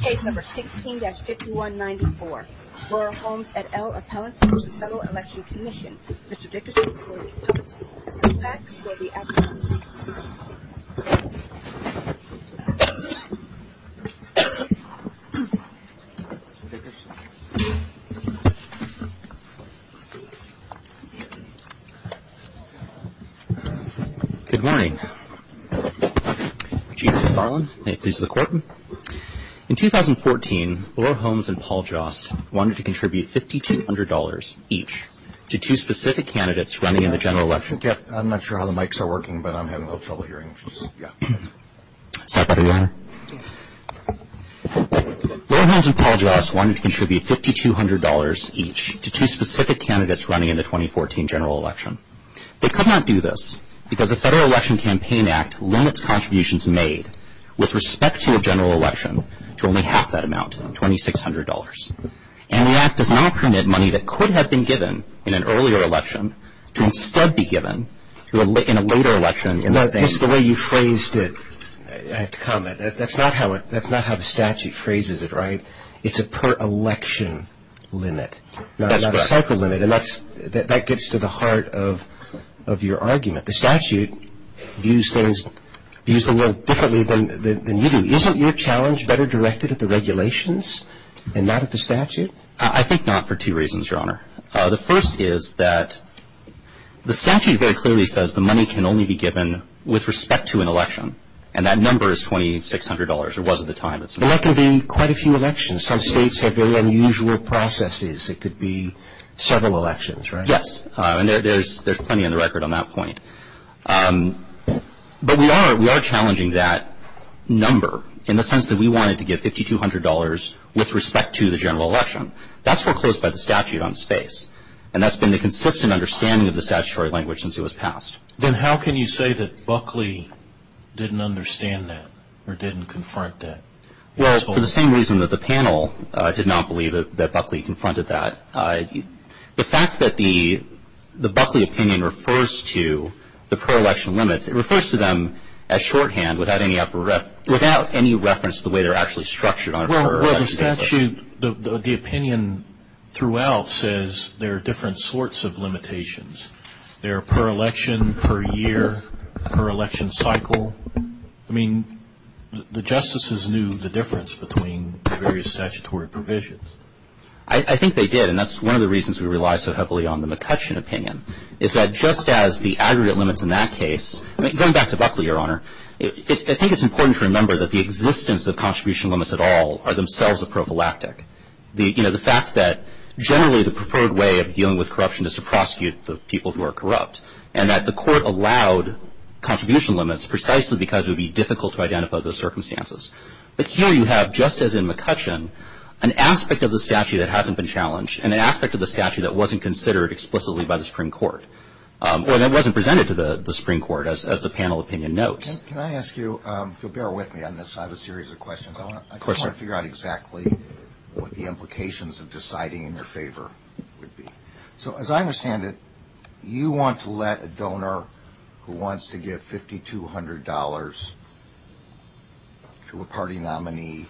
Case number 16-5194. Laura Holmes et al. Appellant to the Federal Election Commission. Mr. Dickerson, please. Good morning. In 2014, Laura Holmes and Paul Joss wanted to contribute $5,200 each to two specific candidates running in the general election. Laura Holmes and Paul Joss wanted to contribute $5,200 each to two specific candidates running in the 2014 general election. They could not do this because the Federal Election Campaign Act limits contributions made with respect to a general election to only half that amount, $2,600. And the Act does not permit money that could have been given in an earlier election to instead be given in a later election. This is the way you phrased it. I have to comment. That's not how the statute phrases it, right? It's a per-election limit, not a cycle limit. And that gets to the heart of your argument. The statute views things a little differently than you do. Isn't your challenge better directed at the regulations and not at the statute? I think not for two reasons, Your Honor. The first is that the statute very clearly says the money can only be given with respect to an election. And that number is $2,600, or was at the time. But that can be quite a few elections. Some states have very unusual processes. It could be several elections, right? Yes. And there's plenty on the record on that point. But we are challenging that number in the sense that we wanted to give $5,200 with respect to the general election. That's foreclosed by the statute on space. And that's been the consistent understanding of the statutory language since it was passed. Then how can you say that Buckley didn't understand that or didn't confront that? Well, for the same reason that the panel did not believe that Buckley confronted that, the fact that the Buckley opinion refers to the per-election limits, it refers to them as shorthand without any reference to the way they're actually structured on a per-election basis. Well, the statute, the opinion throughout says there are different sorts of limitations. There are per-election, per-year, per-election cycle. I mean, the justices knew the difference between the various statutory provisions. I think they did, and that's one of the reasons we rely so heavily on the McCutcheon opinion, is that just as the aggregate limits in that case, going back to Buckley, Your Honor, I think it's important to remember that the existence of contribution limits at all are themselves a prophylactic. The fact that generally the preferred way of dealing with corruption is to prosecute the people who are corrupt and that the court allowed contribution limits precisely because it would be difficult to identify those circumstances. But here you have, just as in McCutcheon, an aspect of the statute that hasn't been challenged, an aspect of the statute that wasn't considered explicitly by the Supreme Court, or that wasn't presented to the Supreme Court, as the panel opinion notes. Can I ask you to bear with me on this? I have a series of questions. I want to figure out exactly what the implications of deciding in your favor would be. So as I understand it, you want to let a donor who wants to give $5,200 to a party nominee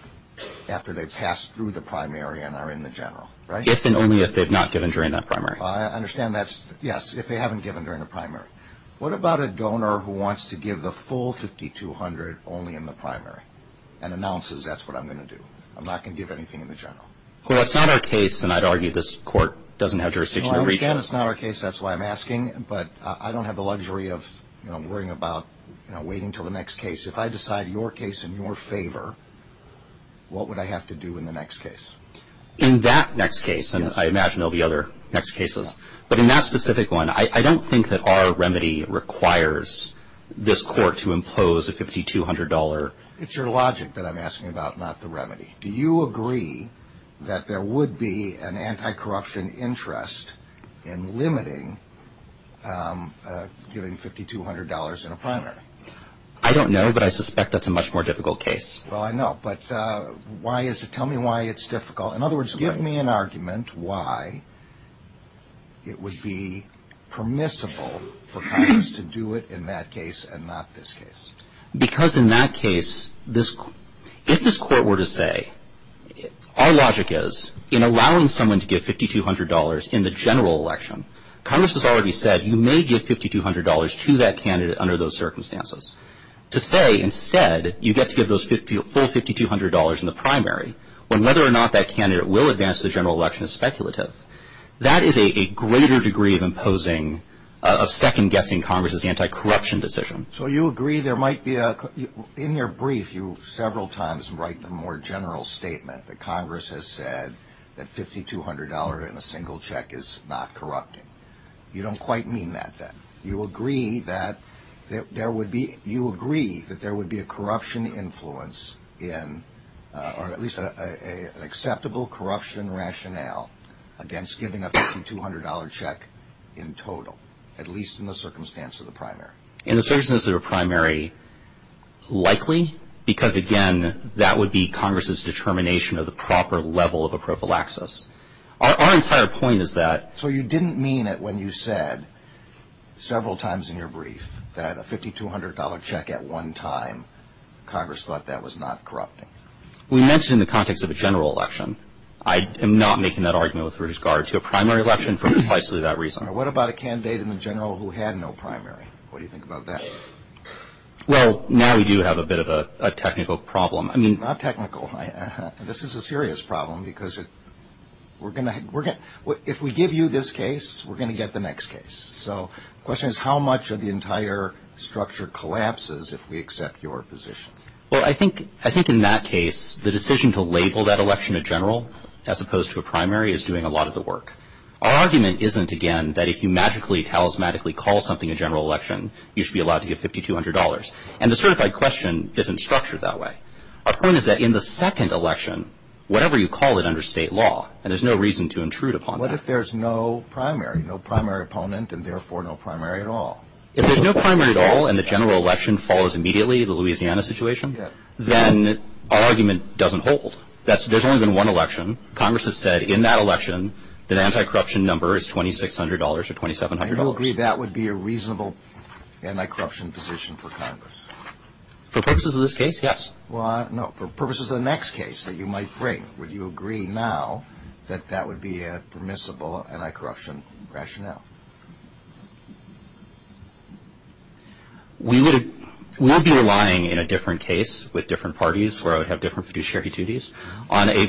after they've passed through the primary and are in the general, right? If and only if they've not given during that primary. I understand that's, yes, if they haven't given during the primary. What about a donor who wants to give the full $5,200 only in the primary and announces that's what I'm going to do, I'm not going to give anything in the general? Well, that's not our case, and I'd argue this Court doesn't have jurisdiction to reach that. I understand it's not our case, that's why I'm asking, but I don't have the luxury of worrying about waiting until the next case. If I decide your case in your favor, what would I have to do in the next case? In that next case, and I imagine there will be other next cases, but in that specific one, I don't think that our remedy requires this Court to impose a $5,200. Do you agree that there would be an anti-corruption interest in limiting giving $5,200 in a primary? I don't know, but I suspect that's a much more difficult case. Well, I know, but tell me why it's difficult. In other words, give me an argument why it would be permissible for Congress to do it in that case and not this case. Because in that case, if this Court were to say, our logic is, in allowing someone to give $5,200 in the general election, Congress has already said you may give $5,200 to that candidate under those circumstances. To say, instead, you get to give those full $5,200 in the primary, when whether or not that candidate will advance to the general election is speculative. That is a greater degree of imposing, of second-guessing Congress's anti-corruption decision. So you agree there might be a – in your brief, you several times write the more general statement that Congress has said that $5,200 in a single check is not corrupting. You don't quite mean that, then. You agree that there would be – you agree that there would be a corruption influence in – or at least an acceptable corruption rationale against giving a $5,200 check in total, at least in the circumstance of the primary. In the circumstances of the primary, likely. Because, again, that would be Congress's determination of the proper level of a prophylaxis. Our entire point is that – So you didn't mean it when you said, several times in your brief, that a $5,200 check at one time, Congress thought that was not corrupting. We mentioned it in the context of a general election. I am not making that argument with ruse guard to a primary election for precisely that reason. What about a candidate in the general who had no primary? What do you think about that? Well, now we do have a bit of a technical problem. I mean – Not technical. This is a serious problem because we're going to – if we give you this case, we're going to get the next case. So the question is, how much of the entire structure collapses if we accept your position? Well, I think in that case, the decision to label that election a general, as opposed to a primary, is doing a lot of the work. Our argument isn't, again, that if you magically, talismanically call something a general election, you should be allowed to get $5,200. And the certified question isn't structured that way. Our point is that in the second election, whatever you call it under state law, and there's no reason to intrude upon that. What if there's no primary, no primary opponent, and therefore no primary at all? If there's no primary at all, and the general election follows immediately, the Louisiana situation, then our argument doesn't hold. There's only been one election. Congress has said in that election that anti-corruption number is $2,600 or $2,700. And you'll agree that would be a reasonable anti-corruption position for Congress? For purposes of this case, yes. Well, no, for purposes of the next case that you might bring, would you agree now that that would be a permissible anti-corruption rationale? We would be relying in a different case with different parties where I would have different fiduciary duties on a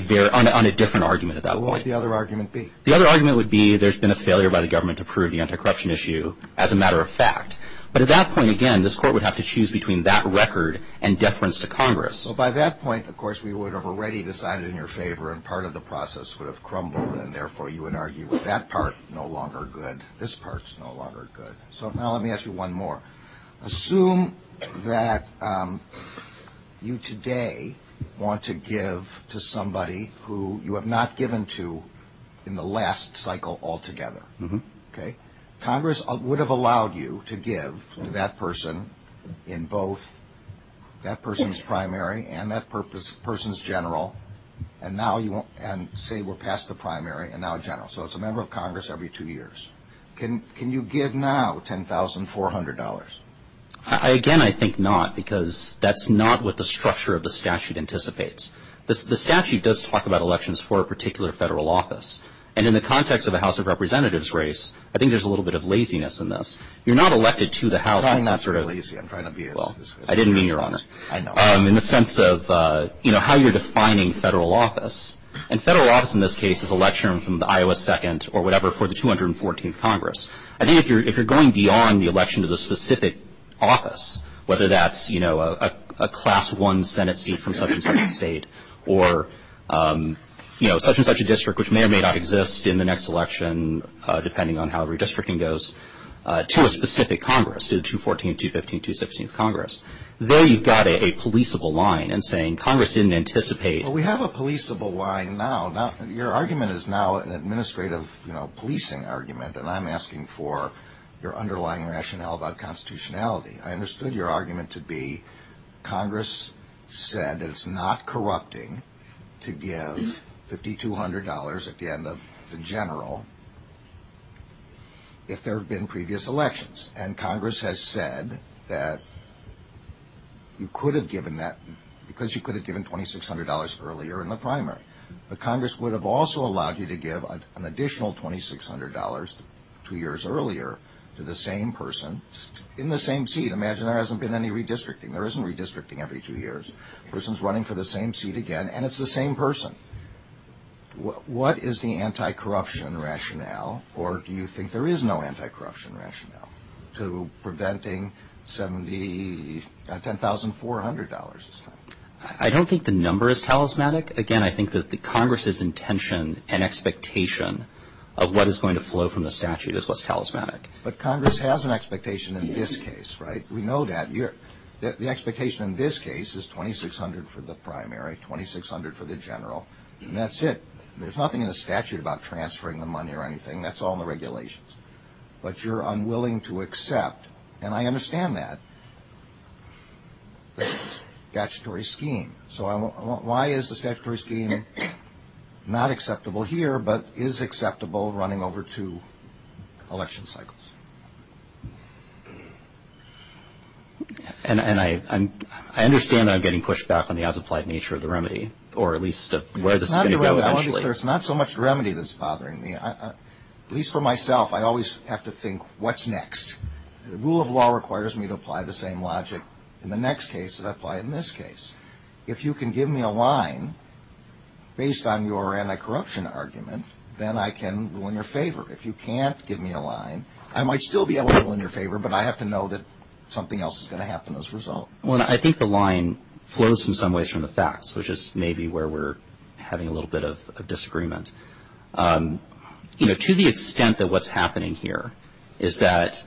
different argument at that point. What would the other argument be? The other argument would be there's been a failure by the government to prove the anti-corruption issue as a matter of fact. But at that point, again, this court would have to choose between that record and deference to Congress. So by that point, of course, we would have already decided in their favor, and part of the process would have crumbled, and therefore you would argue that that part is no longer good. This part is no longer good. So now let me ask you one more. Assume that you today want to give to somebody who you have not given to in the last cycle altogether. Congress would have allowed you to give to that person in both that person's primary and that person's general, and say we'll pass the primary and now the general. So it's a member of Congress every two years. Can you give now $10,400? Again, I think not, because that's not what the structure of the statute anticipates. The statute does talk about elections for a particular federal office, and in the context of the House of Representatives race, I think there's a little bit of laziness in this. You're not elected to the House in that sort of way. I'm not trying to be lazy. I'm trying to be honest. I didn't mean you're honest. I know. In the sense of how you're defining federal office, and federal office in this case is election from the Iowa 2nd or whatever for the 214th Congress. I think if you're going beyond the election to the specific office, whether that's a class one Senate seat from such and such a state or such and such a district, which may or may not exist in the next election, depending on how redistricting goes, to a specific Congress, to the 214th, 215th, 216th Congress, there you've got a policeable line and saying Congress didn't anticipate. We have a policeable line now. Your argument is now an administrative policing argument, and I'm asking for your underlying rationale about constitutionality. I understood your argument to be Congress said that it's not corrupting to give $5,200 at the end of the general if there had been previous elections, and Congress has said that you could have given that because you could have given $2,600 earlier in the primary. But Congress would have also allowed you to give an additional $2,600 two years earlier to the same person in the same seat. Imagine there hasn't been any redistricting. There isn't redistricting every two years. The person's running for the same seat again, and it's the same person. What is the anti-corruption rationale, or do you think there is no anti-corruption rationale, to preventing some of the $10,400 this time? I don't think the number is talismanic. Again, I think that Congress's intention and expectation of what is going to flow from the statute is what's talismanic. But Congress has an expectation in this case, right? We know that. The expectation in this case is $2,600 for the primary, $2,600 for the general, and that's it. There's nothing in the statute about transferring the money or anything. That's all in the regulations. But you're unwilling to accept, and I understand that, the statutory scheme. So why is the statutory scheme not acceptable here, but is acceptable running over two election cycles? And I understand that I'm getting pushed back on the as-applied nature of the remedy, or at least where this is going to go. There's not so much remedy that's bothering me. At least for myself, I always have to think, what's next? The rule of law requires me to apply the same logic in the next case that I apply in this case. If you can give me a line based on your anti-corruption argument, then I can rule in your favor. If you can't give me a line, I might still be able to rule in your favor, but I have to know that something else is going to happen as a result. Well, I think the line flows in some ways from the facts, which is maybe where we're having a little bit of disagreement. You know, to the extent that what's happening here is that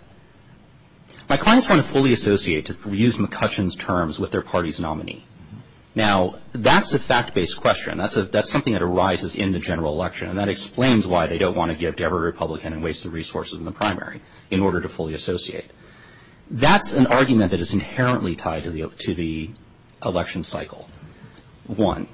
my clients want to fully associate, to use McCutcheon's terms, with their party's nominee. Now, that's a fact-based question. That's something that arises in the general election, and that explains why they don't want to give every Republican a waste of resources in the primary in order to fully associate. That's an argument that is inherently tied to the election cycle, one.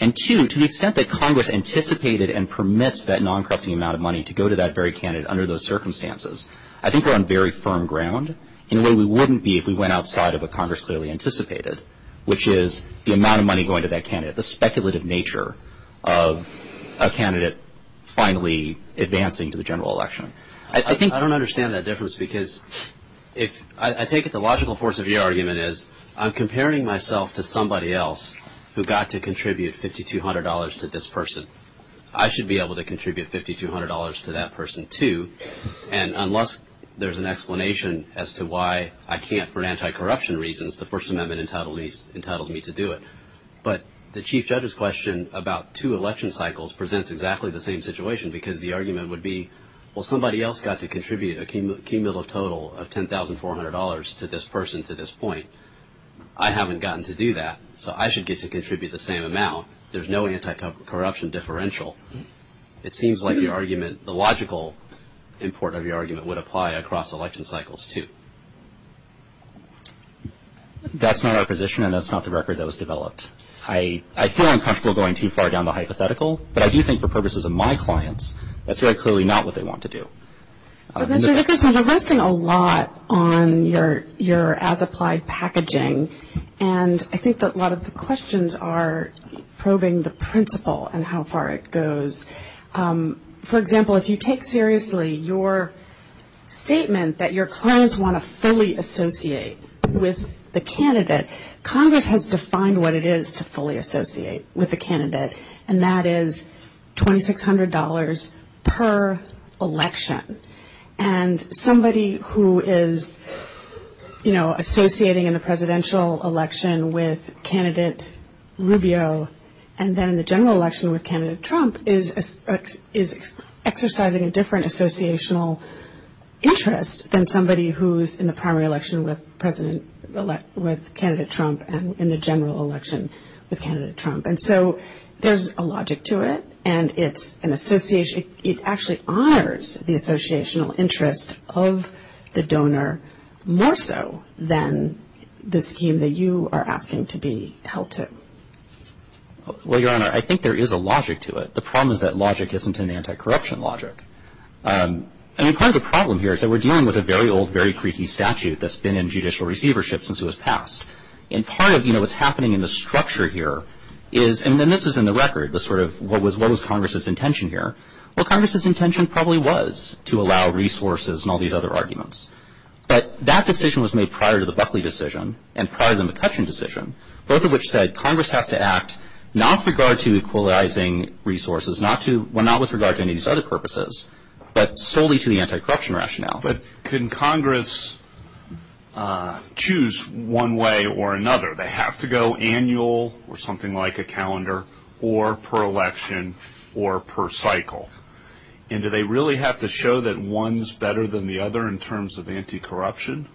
And two, to the extent that Congress anticipated and permissed that non-corrupting amount of money to go to that very candidate under those circumstances, I think we're on very firm ground in a way we wouldn't be if we went outside of what Congress clearly anticipated, which is the amount of money going to that candidate, the speculative nature of a candidate finally advancing to the general election. I don't understand that difference because I take it the logical force of your argument is I'm comparing myself to somebody else who got to contribute $5,200 to this person. I should be able to contribute $5,200 to that person too, and unless there's an explanation as to why I can't for anti-corruption reasons, the First Amendment entitles me to do it. But the chief judge's question about two election cycles presents exactly the same situation because the argument would be, well, somebody else got to contribute a key middle total of $10,400 to this person to this point. I haven't gotten to do that, so I should get to contribute the same amount. There's no anti-corruption differential. It seems like the argument, the logical import of your argument would apply across election cycles too. That's not our position and that's not the record that was developed. I feel uncomfortable going too far down the hypothetical, but I do think for purposes of my clients, that's very clearly not what they want to do. Mr. Hickerson, you're resting a lot on your as-applied packaging, and I think that a lot of the questions are probing the principle and how far it goes. For example, if you take seriously your statement that your clients want to fully associate with the candidate, Congress has defined what it is to fully associate with the candidate, and that is $2,600 per election. And somebody who is, you know, associating in the presidential election with candidate Rubio and then in the general election with candidate Trump is exercising a different associational interest than somebody who's in the primary election with candidate Trump and in the general election with candidate Trump. And so there's a logic to it, and it actually honors the associational interest of the donor more so than the scheme that you are asking to be held to. Well, Your Honor, I think there is a logic to it. The problem is that logic isn't an anti-corruption logic. I mean, part of the problem here is that we're dealing with a very old, very creaky statute that's been in judicial receivership since it was passed. And part of, you know, what's happening in the structure here is, and this is in the record, the sort of what was Congress's intention here. Well, Congress's intention probably was to allow resources and all these other arguments. But that decision was made prior to the Buckley decision and prior to the McCutcheon decision, both of which said Congress has to act not with regard to equalizing resources, not with regard to any of these other purposes, but solely to the anti-corruption rationale. But can Congress choose one way or another? They have to go annual or something like a calendar or per election or per cycle. And do they really have to show that one's better than the other in terms of anti-corruption?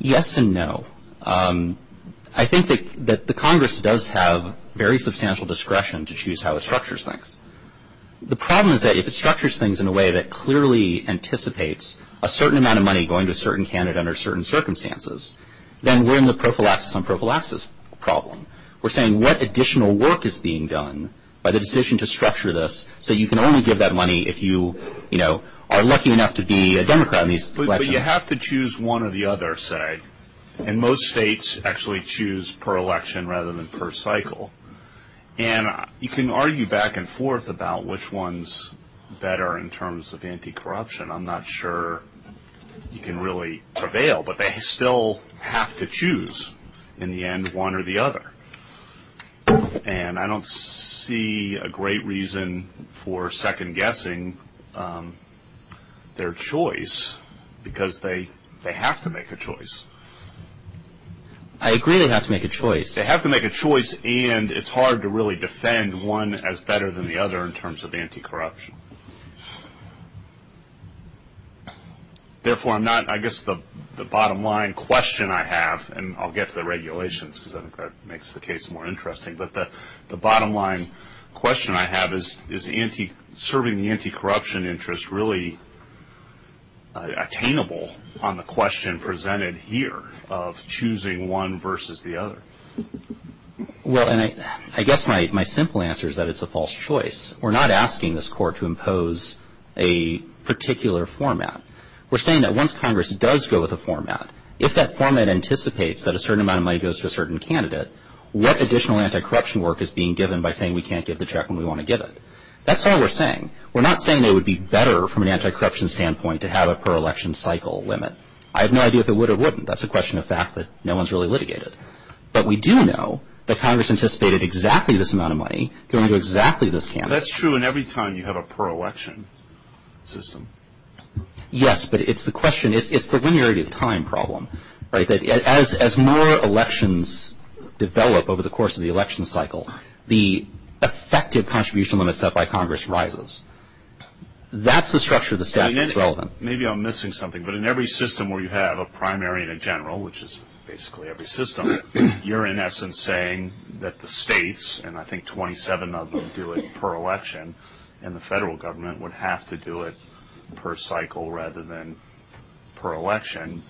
Yes and no. I think that the Congress does have very substantial discretion to choose how it structures things. The problem is that if it structures things in a way that clearly anticipates a certain amount of money going to a certain candidate under certain circumstances, then we're in the prophylaxis on prophylaxis problem. We're saying what additional work is being done by the decision to structure this so you can only give that money if you, you know, are lucky enough to be a Democrat in these elections. But you have to choose one or the other, say. And most states actually choose per election rather than per cycle. And you can argue back and forth about which one's better in terms of anti-corruption. I'm not sure you can really prevail, but they still have to choose, in the end, one or the other. And I don't see a great reason for second-guessing their choice, because they have to make a choice. I agree they have to make a choice. They have to make a choice, and it's hard to really defend one as better than the other in terms of anti-corruption. Therefore, I'm not, I guess the bottom-line question I have, and I'll get to the regulations, because I think that makes the case more interesting, but the bottom-line question I have is, is serving the anti-corruption interest really attainable on the question presented here of choosing one versus the other? Well, and I guess my simple answer is that it's a false choice. We're not asking this Court to impose a particular format. We're saying that once Congress does go with a format, if that format anticipates that a certain amount of money goes to a certain candidate, what additional anti-corruption work is being given by saying we can't give the check when we want to give it? That's all we're saying. We're not saying it would be better from an anti-corruption standpoint to have a per-election cycle limit. I have no idea if it would or wouldn't. That's a question of fact that no one's really litigated. But we do know that Congress anticipated exactly this amount of money going to exactly this candidate. That's true, and every time you have a per-election system. Yes, but it's the question. It's the linearity of time problem. As more elections develop over the course of the election cycle, the effective contribution limit set by Congress rises. That's the structure of the statute that's relevant. Maybe I'm missing something, but in every system where you have a primary and a general, which is basically every system, you're in essence saying that the states, and I think 27 of them do it per-election, and the federal government would have to do it per cycle rather than per-election.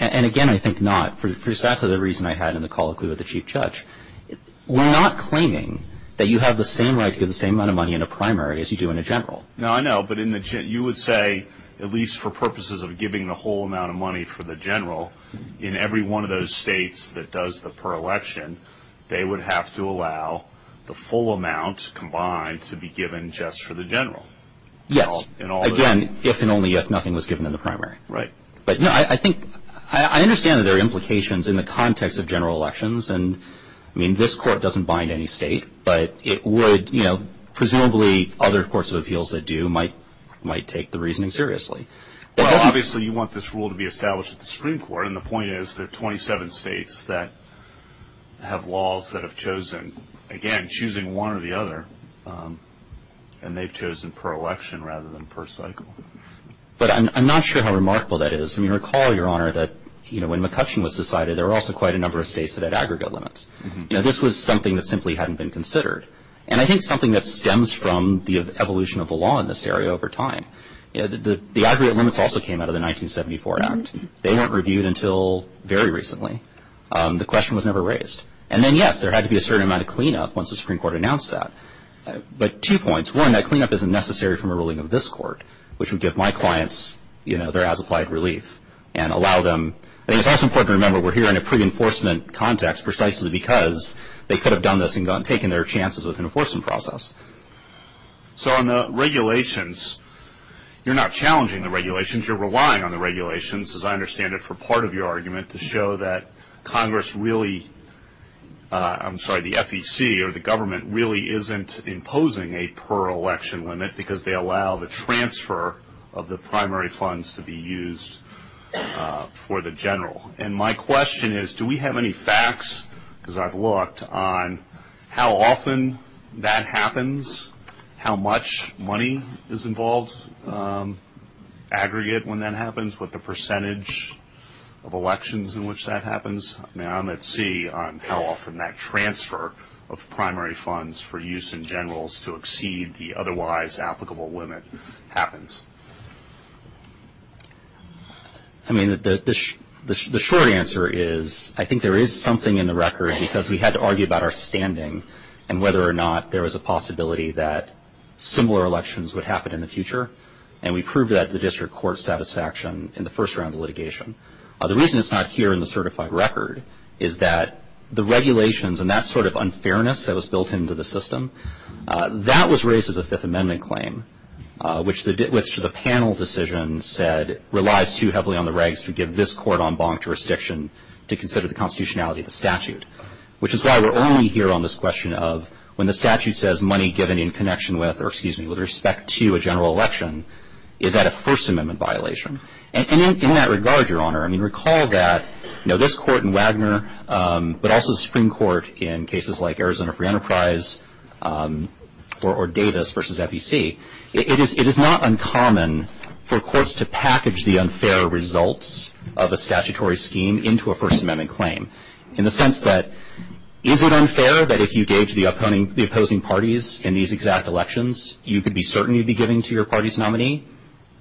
And again, I think not. That's the reason I had in the call with the Chief Judge. We're not claiming that you have the same right to get the same amount of money in a primary as you do in a general. No, I know, but you would say, at least for purposes of giving the whole amount of money for the general, in every one of those states that does the per-election, they would have to allow the full amount combined to be given just for the general. Yes. Again, if and only if nothing was given in the primary. Right. But I understand that there are implications in the context of general elections, and, I mean, this court doesn't bind any state, but it would, you know, presumably other courts of appeals that do might take the reasoning seriously. Well, obviously you want this rule to be established at the Supreme Court, and the point is there are 27 states that have laws that have chosen, again, choosing one or the other, and they've chosen per-election rather than per cycle. But I'm not sure how remarkable that is. I mean, recall, Your Honor, that, you know, when McCutcheon was decided, there were also quite a number of states that had aggregate limits. You know, this was something that simply hadn't been considered, and I think something that stems from the evolution of the law in this area over time. The aggregate limits also came out of the 1974 Act. They weren't reviewed until very recently. The question was never raised. And then, yes, there had to be a certain amount of cleanup once the Supreme Court announced that. But two points. One, that cleanup isn't necessary from a ruling of this court, which would give my clients, you know, their as-applied relief and allow them. And it's also important to remember we're here in a pre-enforcement context precisely because they could have done this and taken their chances with an enforcement process. So on the regulations, you're not challenging the regulations. You're relying on the regulations, as I understand it for part of your argument, to show that Congress really, I'm sorry, the FEC or the government really isn't imposing a per-election limit because they allow the transfer of the primary funds to be used for the general. And my question is, do we have any facts, as I've looked, on how often that happens, how much money is involved aggregate when that happens, what the percentage of elections in which that happens. Now I'm at sea on how often that transfer of primary funds for use in generals to exceed the otherwise applicable limit happens. I mean, the short answer is I think there is something in the record, because we had to argue about our standing and whether or not there was a possibility that similar elections would happen in the future. And we proved that at the district court satisfaction in the first round of litigation. The reason it's not here in the certified record is that the regulations and that sort of unfairness that was built into the system, that was raised as a Fifth Amendment claim, which the panel decision said relies too heavily on the regs to give this court en banc jurisdiction to consider the constitutionality of the statute, which is why we're only here on this question of when the statute says money given in connection with respect to a general election, is that a First Amendment violation? In that regard, Your Honor, I mean, recall that this court in Wagner, but also the Supreme Court in cases like Arizona Free Enterprise or Davis versus FEC, it is not uncommon for courts to package the unfair results of a statutory scheme into a First Amendment claim in the sense that is it unfair that if you gauge the opposing parties in these exact elections, you could be certain you'd be giving to your party's nominee?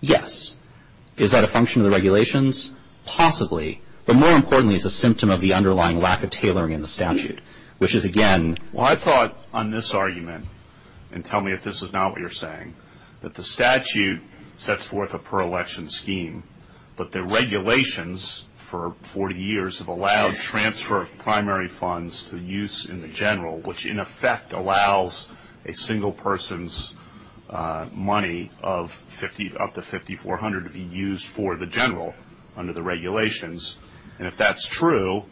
Yes. Is that a function of the regulations? Possibly. But more importantly, it's a symptom of the underlying lack of tailoring in the statute, which is again... Well, I thought on this argument, and tell me if this is not what you're saying, that the statute sets forth a pro-election scheme, but the regulations for 40 years have allowed transfer of primary funds to use in the general, which in effect allows a single person's money up to $5,400 to be used for the general under the regulations. And if that's true,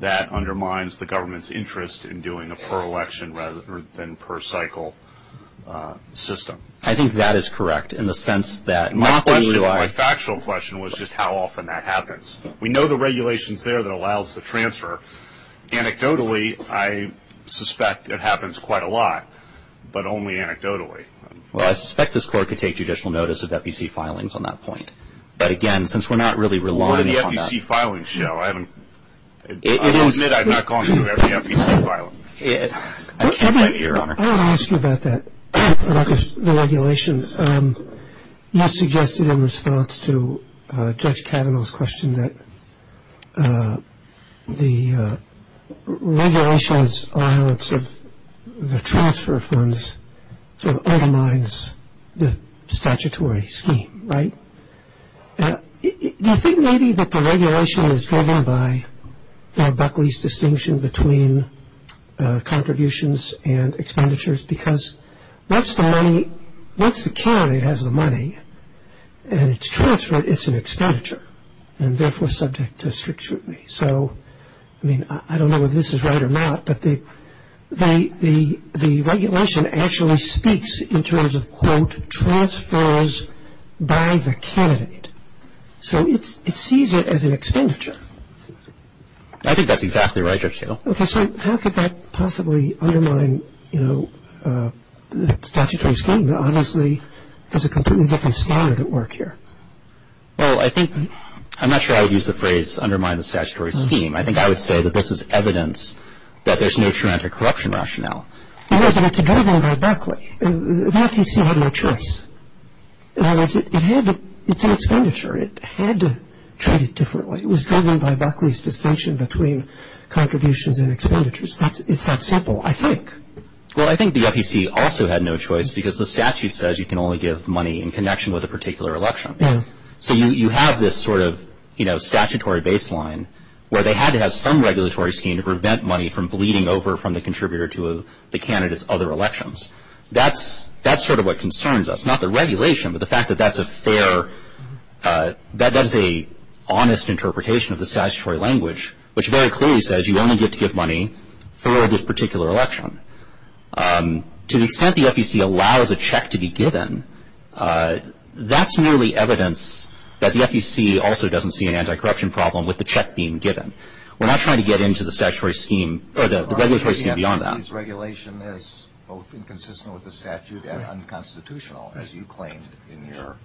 that undermines the government's interest in doing a pro-election rather than per-cycle system. I think that is correct in the sense that... My question, my factual question was just how often that happens. We know the regulations there that allows the transfer. Anecdotally, I suspect it happens quite a lot, but only anecdotally. Well, I suspect this court could take judicial notice of FEC filings on that point. But again, since we're not really relying on that... We're on the FEC filing show. I admit I'm not confident about the FEC filing. I want to ask you about that, about the regulations. You suggested in response to Judge Kavanaugh's question that the regulations are sort of the transfer funds, so it undermines the statutory scheme, right? Do you think maybe that the regulation is driven by Doug Buckley's distinction between contributions and expenditures? Because once the county has the money and it's transferred, it's an expenditure, and therefore subject to strict scrutiny. So, I mean, I don't know if this is right or not, but the regulation actually speaks in terms of, quote, transfers by the candidate. So it sees it as an expenditure. I think that's exactly right, Your Honor. Okay, so how could that possibly undermine the statutory scheme? Obviously, there's a completely different standard at work here. Well, I think – I'm not sure I would use the phrase undermine the statutory scheme. I think I would say that this is evidence that there's no traumatic corruption rationale. Yes, but it's driven by Buckley. The FEC had no choice. In other words, it's an expenditure. It had to treat it differently. It was driven by Buckley's distinction between contributions and expenditures. It's that simple, I think. Well, I think the FEC also had no choice because the statute says you can only give money in connection with a particular election. So you have this sort of statutory baseline where they had to have some regulatory scheme to prevent money from bleeding over from the contributor to the candidate's other elections. That's sort of what concerns us, not the regulation, but the fact that that's a fair – that's an honest interpretation of the statutory language, which very clearly says you only get to give money for this particular election. To the extent the FEC allows a check to be given, that's nearly evidence that the FEC also doesn't see an anti-corruption problem with the check being given. We're not trying to get into the statutory scheme or the regulatory scheme beyond that. The FEC sees regulation as both inconsistent with the statute and unconstitutional, as you claimed in your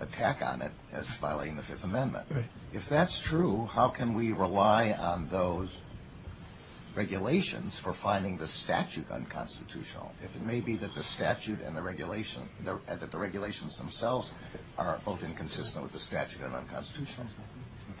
attack on it as violating the Fifth Amendment. If that's true, how can we rely on those regulations for finding the statute unconstitutional? It may be that the statute and the regulations themselves are both inconsistent with the statute and unconstitutional.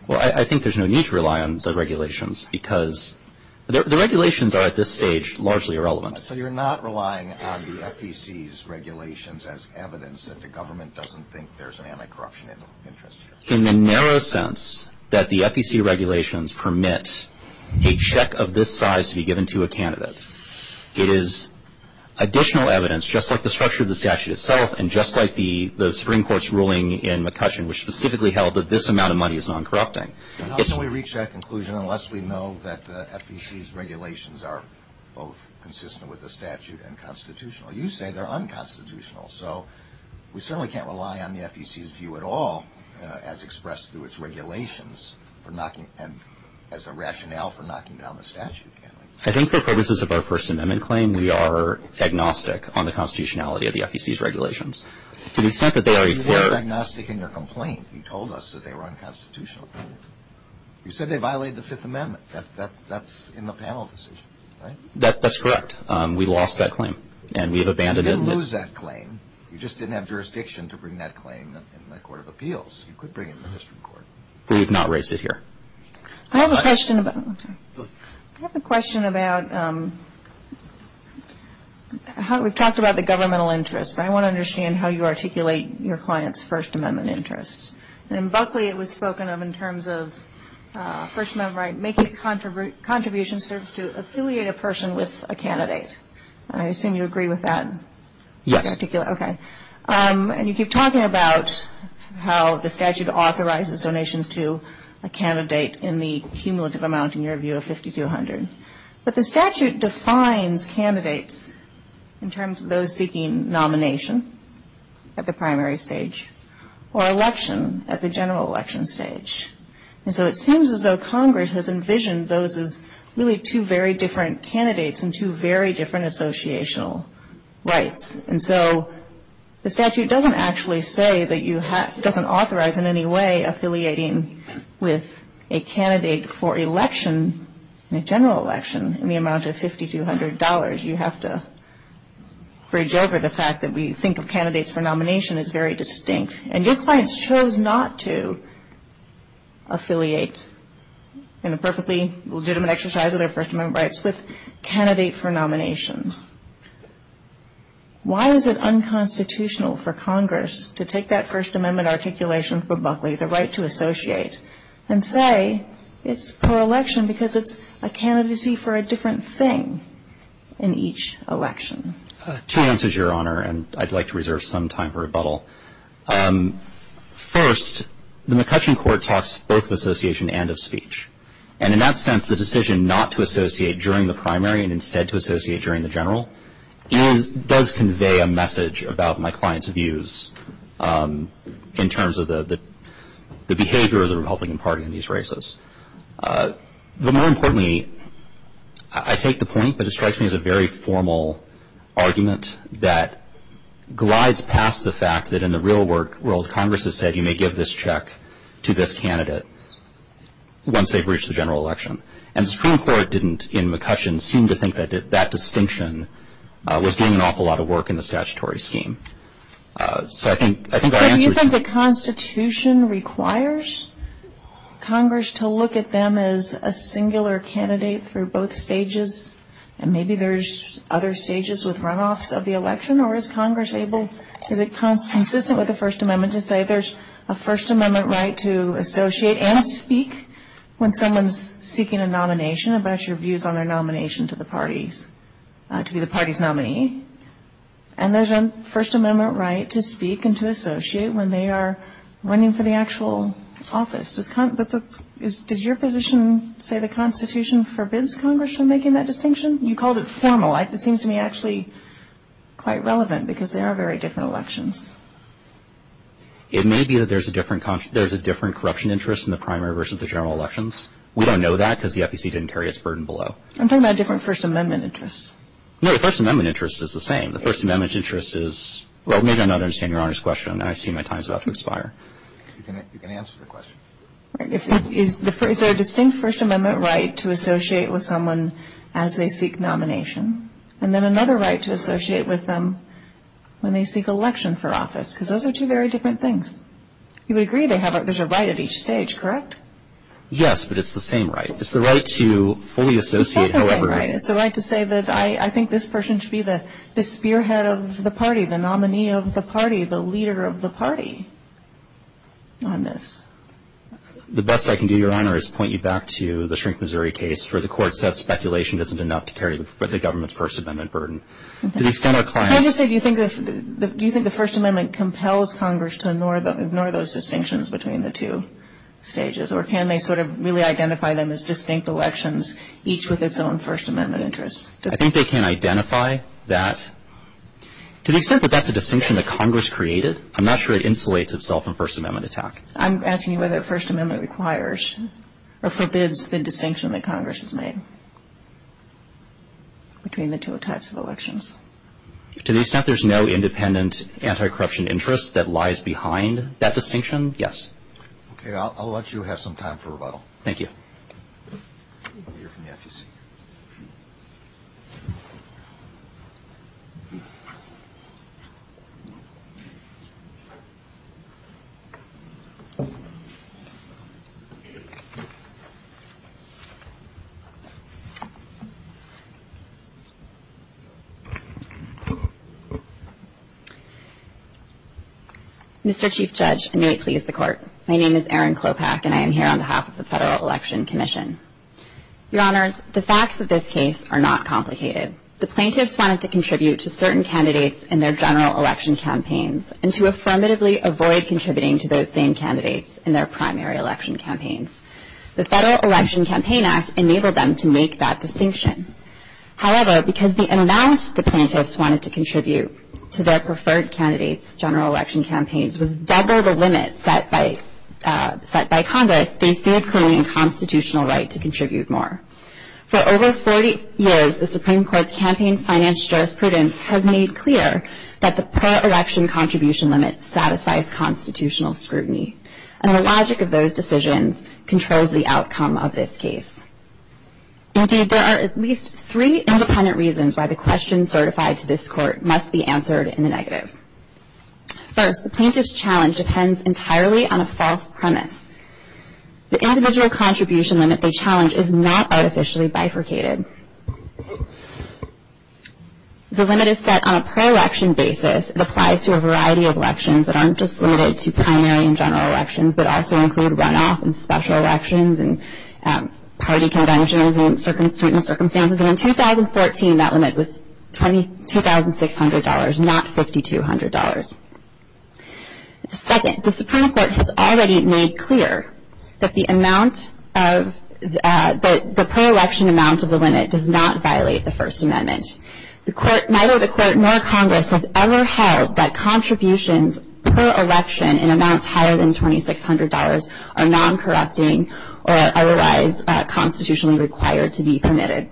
Well, I think there's no need to rely on the regulations because the regulations are, at this stage, largely irrelevant. So you're not relying on the FEC's regulations as evidence that the government doesn't think there's anti-corruption interests? In the narrow sense that the FEC regulations permit a check of this size to be given to a candidate, it is additional evidence, just like the structure of the statute itself and just like the Supreme Court's ruling in McCutcheon, which specifically held that this amount of money is non-corrupting. How can we reach that conclusion unless we know that the FEC's regulations are both consistent with the statute and constitutional? You say they're unconstitutional. So we certainly can't rely on the FEC's view at all as expressed through its regulations as a rationale for knocking down the statute, can we? I think for purposes of our First Amendment claim, we are agnostic on the constitutionality of the FEC's regulations. To the extent that they are... We are agnostic in your complaint. You told us that they were unconstitutional. You said they violated the Fifth Amendment. That's in the panel decision, right? That's correct. We lost that claim and we have abandoned it. You didn't lose that claim. You just didn't have jurisdiction to bring that claim in the Court of Appeals. You could bring it in the Supreme Court. We have not raised it here. I have a question about... We've talked about the governmental interest, but I want to understand how you articulate your client's First Amendment interest. In Buckley, it was spoken of in terms of First Amendment rights, making a contribution serves to affiliate a person with a candidate. I assume you agree with that? Yes. Okay. You keep talking about how the statute authorizes donations to a candidate in the cumulative amount, in your view, of 5,200. But the statute defines candidates in terms of those seeking nomination at the primary stage or election at the general election stage. And so it seems as though Congress has envisioned those as really two very different candidates and two very different associational rights. And so the statute doesn't actually say that you have... in the amount of $5,200. You have to bridge over the fact that we think of candidates for nomination as very distinct. And your client chose not to affiliate in a perfectly legitimate exercise of their First Amendment rights with candidates for nomination. Why is it unconstitutional for Congress to take that First Amendment articulation from Buckley, the right to associate, and say it's per election because it's a candidacy for a different thing in each election? Two answers, Your Honor, and I'd like to reserve some time for rebuttal. First, the McCutcheon Court talks both of association and of speech. And in that sense, the decision not to associate during the primary and instead to associate during the general does convey a message about my client's views in terms of the behavior of the Republican Party in these races. More importantly, I take the point, but it strikes me as a very formal argument that glides past the fact that in the real world, Congress has said you may give this check to this candidate once they've reached the general election. And the Supreme Court didn't, in McCutcheon, seem to think that that distinction was doing an awful lot of work in the statutory scheme. So do you think the Constitution requires Congress to look at them as a singular candidate for both stages? And maybe there's other stages with runoffs of the election? Or is Congress able to be consistent with the First Amendment to say there's a First Amendment right to associate and speak when someone's seeking a nomination, and what are your views on their nomination to be the party's nominee? And there's a First Amendment right to speak and to associate when they are running for the actual office. Does your position say the Constitution forbids Congress from making that distinction? You called it formalized. It seems to me actually quite relevant because they are very different elections. It may be that there's a different corruption interest in the primary versus the general elections. We don't know that because the FEC didn't carry its burden below. I'm talking about a different First Amendment interest. No, the First Amendment interest is the same. The First Amendment interest is – well, maybe I'm not understanding Your Honor's question. I assume my time is about to expire. You can answer the question. Is there a distinct First Amendment right to associate with someone as they seek nomination? And then another right to associate with them when they seek election for office because those are two very different things. You would agree there's a right at each stage, correct? Yes, but it's the same right. It's the right to fully associate. It's the same right. It's the right to say that I think this person should be the spearhead of the party, the nominee of the party, the leader of the party on this. The best I can do, Your Honor, is point you back to the Shrink, Missouri case where the court said speculation isn't enough to carry the government's First Amendment burden. I'm just saying, do you think the First Amendment compels Congress to ignore those distinctions between the two stages, or can they sort of really identify them as distinct elections, each with its own First Amendment interest? I think they can identify that. To the extent that that's a distinction that Congress created, I'm not sure it insulates itself from First Amendment attack. I'm asking you whether First Amendment requires or forbids the distinction that Congress has made between the two attacks of elections. To the extent there's no independent anti-corruption interest that lies behind that distinction, yes. Okay, I'll let you have some time for rebuttal. Thank you. You're from Memphis. Mr. Chief Judge, and may it please the Court, my name is Erin Klopach, and I am here on behalf of the Federal Election Commission. Your Honors, the facts of this case are not complicated. The plaintiffs wanted to contribute to certain candidates in their general election campaigns and to affirmatively avoid contributing to those same candidates in their primary election campaigns. The Federal Election Campaign Act enabled them to make that distinction. However, because the amount the plaintiffs wanted to contribute to their preferred candidates' general election campaigns was double the limit set by Congress, they failed clearly in constitutional right to contribute more. For over 40 years, the Supreme Court campaign finance jurisprudence has made clear that the per-election contribution limit satisfies constitutional scrutiny, and the logic of those decisions controls the outcome of this case. Indeed, there are at least three independent reasons why the question certified to this Court must be answered in the negative. First, the plaintiff's challenge depends entirely on a false premise. The individual contribution limit they challenge is not artificially bifurcated. The limit is set on a per-election basis. It applies to a variety of elections that aren't just limited to primary and general elections, but also include runoff and special elections and party conventions and circumstances. And in 2014, that limit was $2,600, not $5,200. Second, the Supreme Court has already made clear that the per-election amount of the limit does not violate the First Amendment. Neither the Court nor Congress has ever held that contributions per election in amounts higher than $2,600 are non-corrupting or otherwise constitutionally required to be permitted.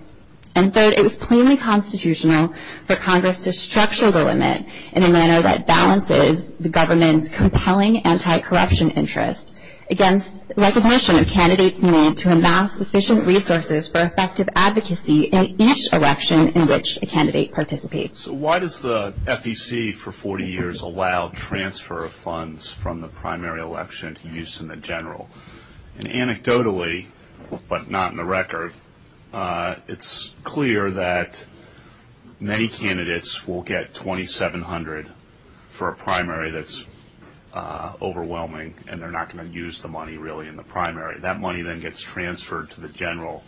And third, it was plainly constitutional for Congress to structure the limit in a manner that balances the government's compelling anti-corruption interest against recognition of candidates' need to amass efficient resources for effective advocacy in each election in which a candidate participates. So why does the FEC for 40 years allow transfer of funds from the primary election to use in the general? And anecdotally, but not in the record, it's clear that many candidates will get $2,700 for a primary that's overwhelming, and they're not going to use the money really in the primary. That money then gets transferred to the general.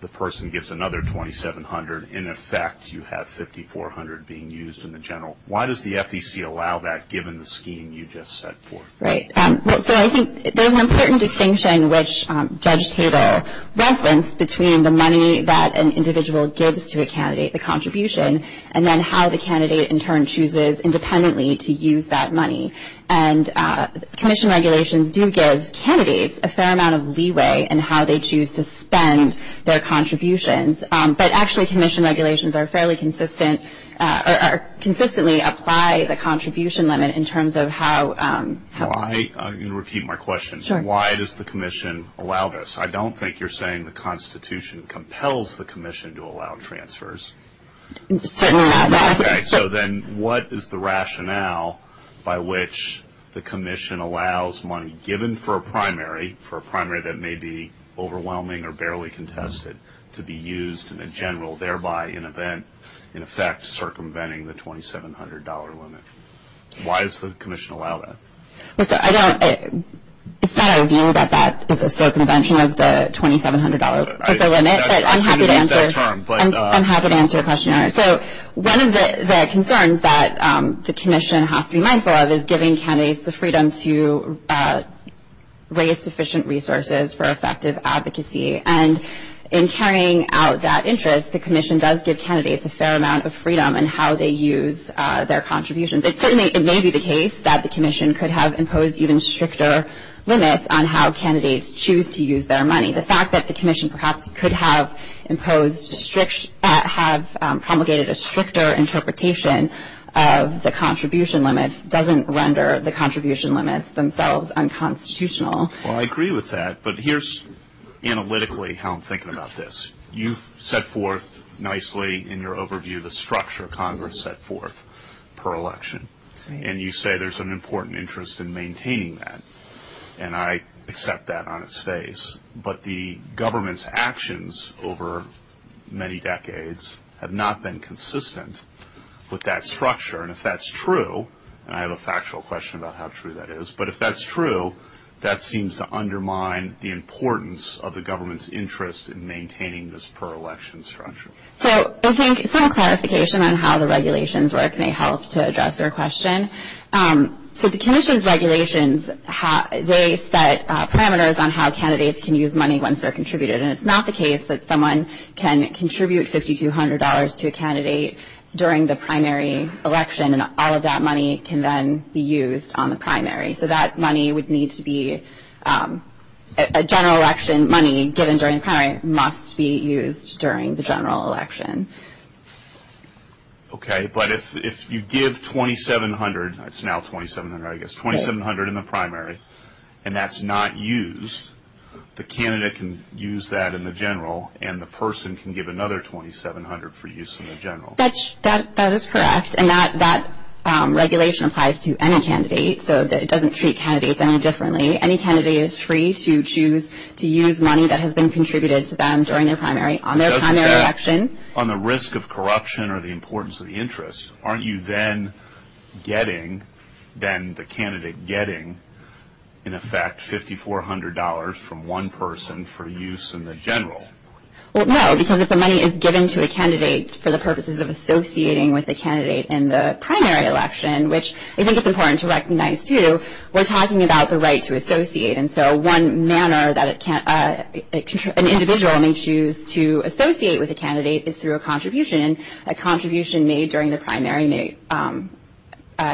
The person gets another $2,700. In effect, you have $5,400 being used in the general. Why does the FEC allow that given the scheme you just set forth? Right. So I think there's an important distinction which Judge Taylor referenced between the money that an individual gives to a candidate, the contribution, and then how the candidate in turn chooses independently to use that money. And commission regulations do give candidates a fair amount of leeway in how they choose to spend their contributions, but actually commission regulations are fairly consistent or consistently apply the contribution limit in terms of how. I'm going to repeat my question. Why does the commission allow this? I don't think you're saying the Constitution compels the commission to allow transfers. Certainly not. Okay. So then what is the rationale by which the commission allows money given for a primary, for a primary that may be overwhelming or barely contested, to be used in the general, thereby in effect circumventing the $2,700 limit? Why does the commission allow that? It's not our view that that is a circumvention of the $2,700 limit. I'm happy to answer your question. So one of the concerns that the commission has to be mindful of is giving candidates the freedom to raise sufficient resources for effective advocacy. And in carrying out that interest, the commission does give candidates a fair amount of freedom in how they use their contributions. It certainly may be the case that the commission could have imposed even stricter limits on how candidates choose to use their money. The fact that the commission perhaps could have promulgated a stricter interpretation of the contribution limit doesn't render the contribution limits themselves unconstitutional. Well, I agree with that. But here's analytically how I'm thinking about this. You've set forth nicely in your overview the structure Congress set forth per election. And you say there's an important interest in maintaining that. And I accept that on its face. But the government's actions over many decades have not been consistent with that structure. And if that's true, and I have a factual question about how true that is, but if that's true, that seems to undermine the importance of the government's interest in maintaining this per election structure. So I think some clarification on how the regulations work may help to address your question. So the commission's regulations, they set parameters on how candidates can use money once they're contributed. And it's not the case that someone can contribute $5,200 to a candidate during the primary election, and all of that money can then be used on the primary. So that money would need to be a general election money given during the primary must be used during the general election. Okay. But if you give $2,700, it's now $2,700 I guess, $2,700 in the primary, and that's not used, the candidate can use that in the general, and the person can give another $2,700 for use in the general. That is correct. And that regulation applies to any candidate, so it doesn't treat candidates any differently. Any candidate is free to choose to use money that has been contributed to them during their primary, on their primary election. On the risk of corruption or the importance of the interest, aren't you then getting then the candidate getting, in effect, $5,400 from one person for use in the general? Well, no, because if the money is given to a candidate for the purposes of associating with a candidate in the primary election, which I think it's important to recognize, too, we're talking about the right to associate. And so one manner that an individual may choose to associate with a candidate is through a contribution. A contribution made during the primary may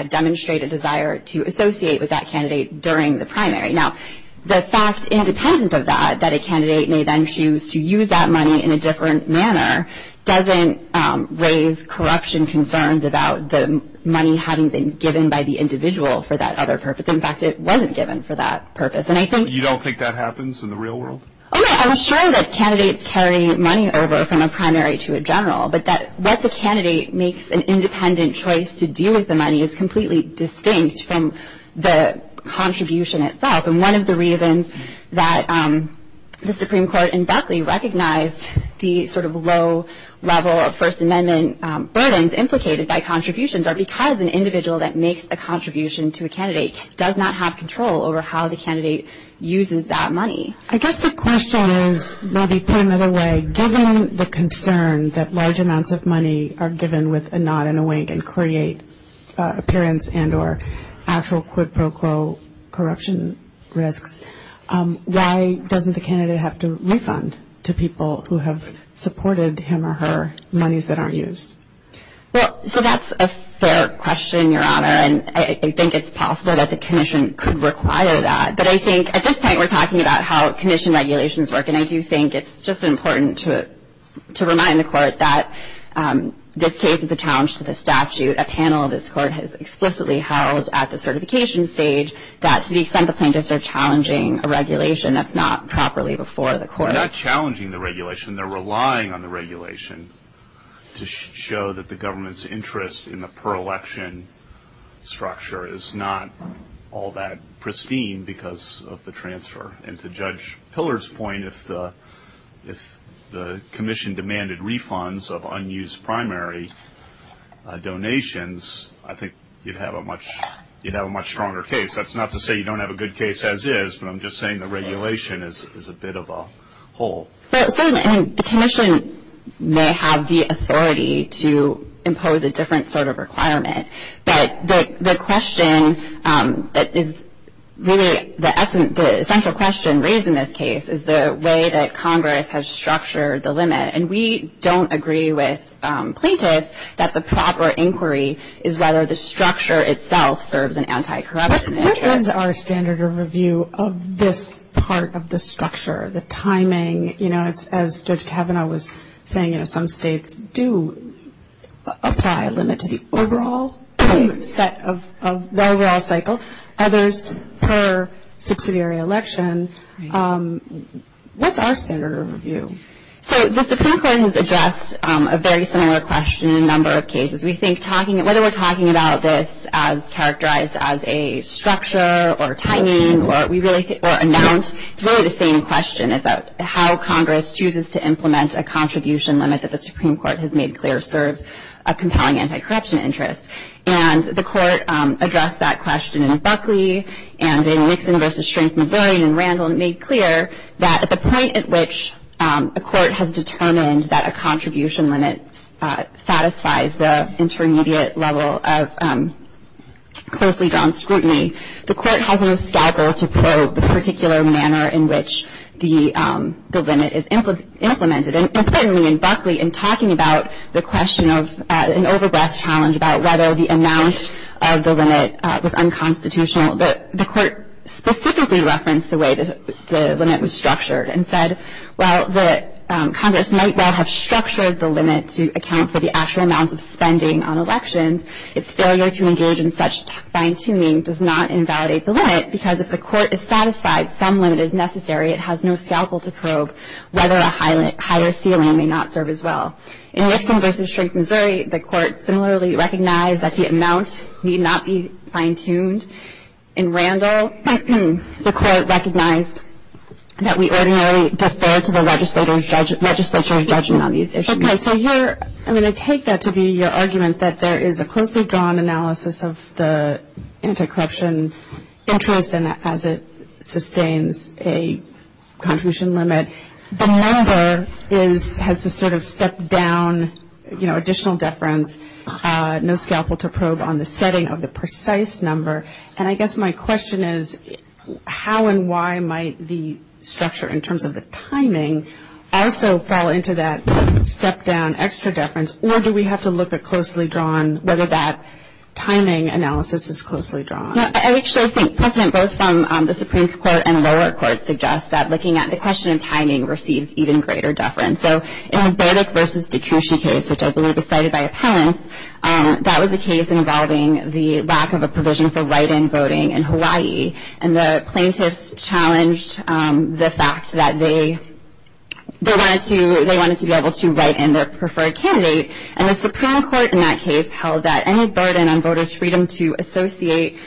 demonstrate a desire to associate with that candidate during the primary. Now, the fact, independent of that, that a candidate may then choose to use that money in a different manner doesn't raise corruption concerns about the money having been given by the individual for that other purpose. In fact, it wasn't given for that purpose. You don't think that happens in the real world? I'm sure that candidates carry money over from a primary to a general, but that what the candidate makes an independent choice to do with the money is completely distinct from the contribution itself. And one of the reasons that the Supreme Court in Beckley recognized the sort of low level of First Amendment burdens implicated by contributions are because an individual that makes a contribution to a candidate does not have control over how the candidate uses that money. I guess the question is, maybe put another way, given the concern that large amounts of money are given with a nod and a wink and create appearance and or actual quid pro quo corruption risk, why doesn't the candidate have to refund to people who have supported him or her monies that are used? Well, so that's a fair question, Your Honor, and I think it's possible that the commission could require that. But I think at this point we're talking about how commission regulations work, and I do think it's just important to remind the Court that this case is a challenge to the statute. A panel of this Court has explicitly held at the certification stage that the plaintiffs are challenging a regulation that's not properly before the Court. They're not challenging the regulation. They're relying on the regulation to show that the government's interest in the per-election structure is not all that pristine because of the transfer. And to Judge Pillar's point, if the commission demanded refunds of unused primary donations, I think you'd have a much stronger case. That's not to say you don't have a good case as is, but I'm just saying the regulation is a bit of a hole. Certainly, I mean, the commission may have the authority to impose a different sort of requirement, but the question that is really the essential question raised in this case is the way that Congress has structured the limit. And we don't agree with plaintiffs that the proper inquiry is whether the structure itself serves an anti-corruption interest. What is our standard of review of this part of the structure, the timing? You know, as Judge Kavanaugh was saying, some states do apply a limit to the overall set of the overall cycle. Others, per subsidiary elections. What's our standard of review? So, the Supreme Court has addressed a very similar question in a number of cases. We think whether we're talking about this as characterized as a structure or timing or announce, it's really the same question about how Congress chooses to implement a contribution limit that the Supreme Court has made clear serves a compelling anti-corruption interest. And the court addressed that question in Buckley and in Nixon v. Strange-Mazarin and Randall and made clear that at the point at which a court has determined that a contribution limit satisfies the intermediate level of closely drawn scrutiny, the court has no scalpel to probe the particular manner in which the limit is implemented. And certainly in Buckley, in talking about the question of an overdraft challenge, about whether the amount of the limit was unconstitutional, the court specifically referenced the way the limit was structured and said, while Congress might not have structured the limit to account for the actual amount of spending on elections, its failure to engage in such fine-tuning does not invalidate the limit because if the court is satisfied some limit is necessary, it has no scalpel to probe whether a higher ceiling may not serve as well. In Nixon v. Strange-Mazarin, the court similarly recognized that the amount need not be fine-tuned. In Randall, the court recognized that we ordinarily defer to the legislature's judgment on these issues. Okay, so here I'm going to take that to be your argument that there is a closely drawn analysis of the anticorruption interest and as it sustains a contribution limit, the number has to sort of step down, you know, additional deference, no scalpel to probe on the setting of the precise number. And I guess my question is, how and why might the structure in terms of the timing also fall into that step-down extra deference, or do we have to look at closely drawn, whether that timing analysis is closely drawn? No, I actually think precedent both from the Supreme Court and lower courts suggests that looking at the question of timing receives even greater deference. So in the Burdick v. Dekushin case, which I believe was cited by appellants, that was a case involving the lack of a provision for write-in voting in Hawaii, and the plaintiffs challenged the fact that they wanted to be able to write in their preferred candidate. And the Supreme Court in that case held that any burden on voters' freedom to associate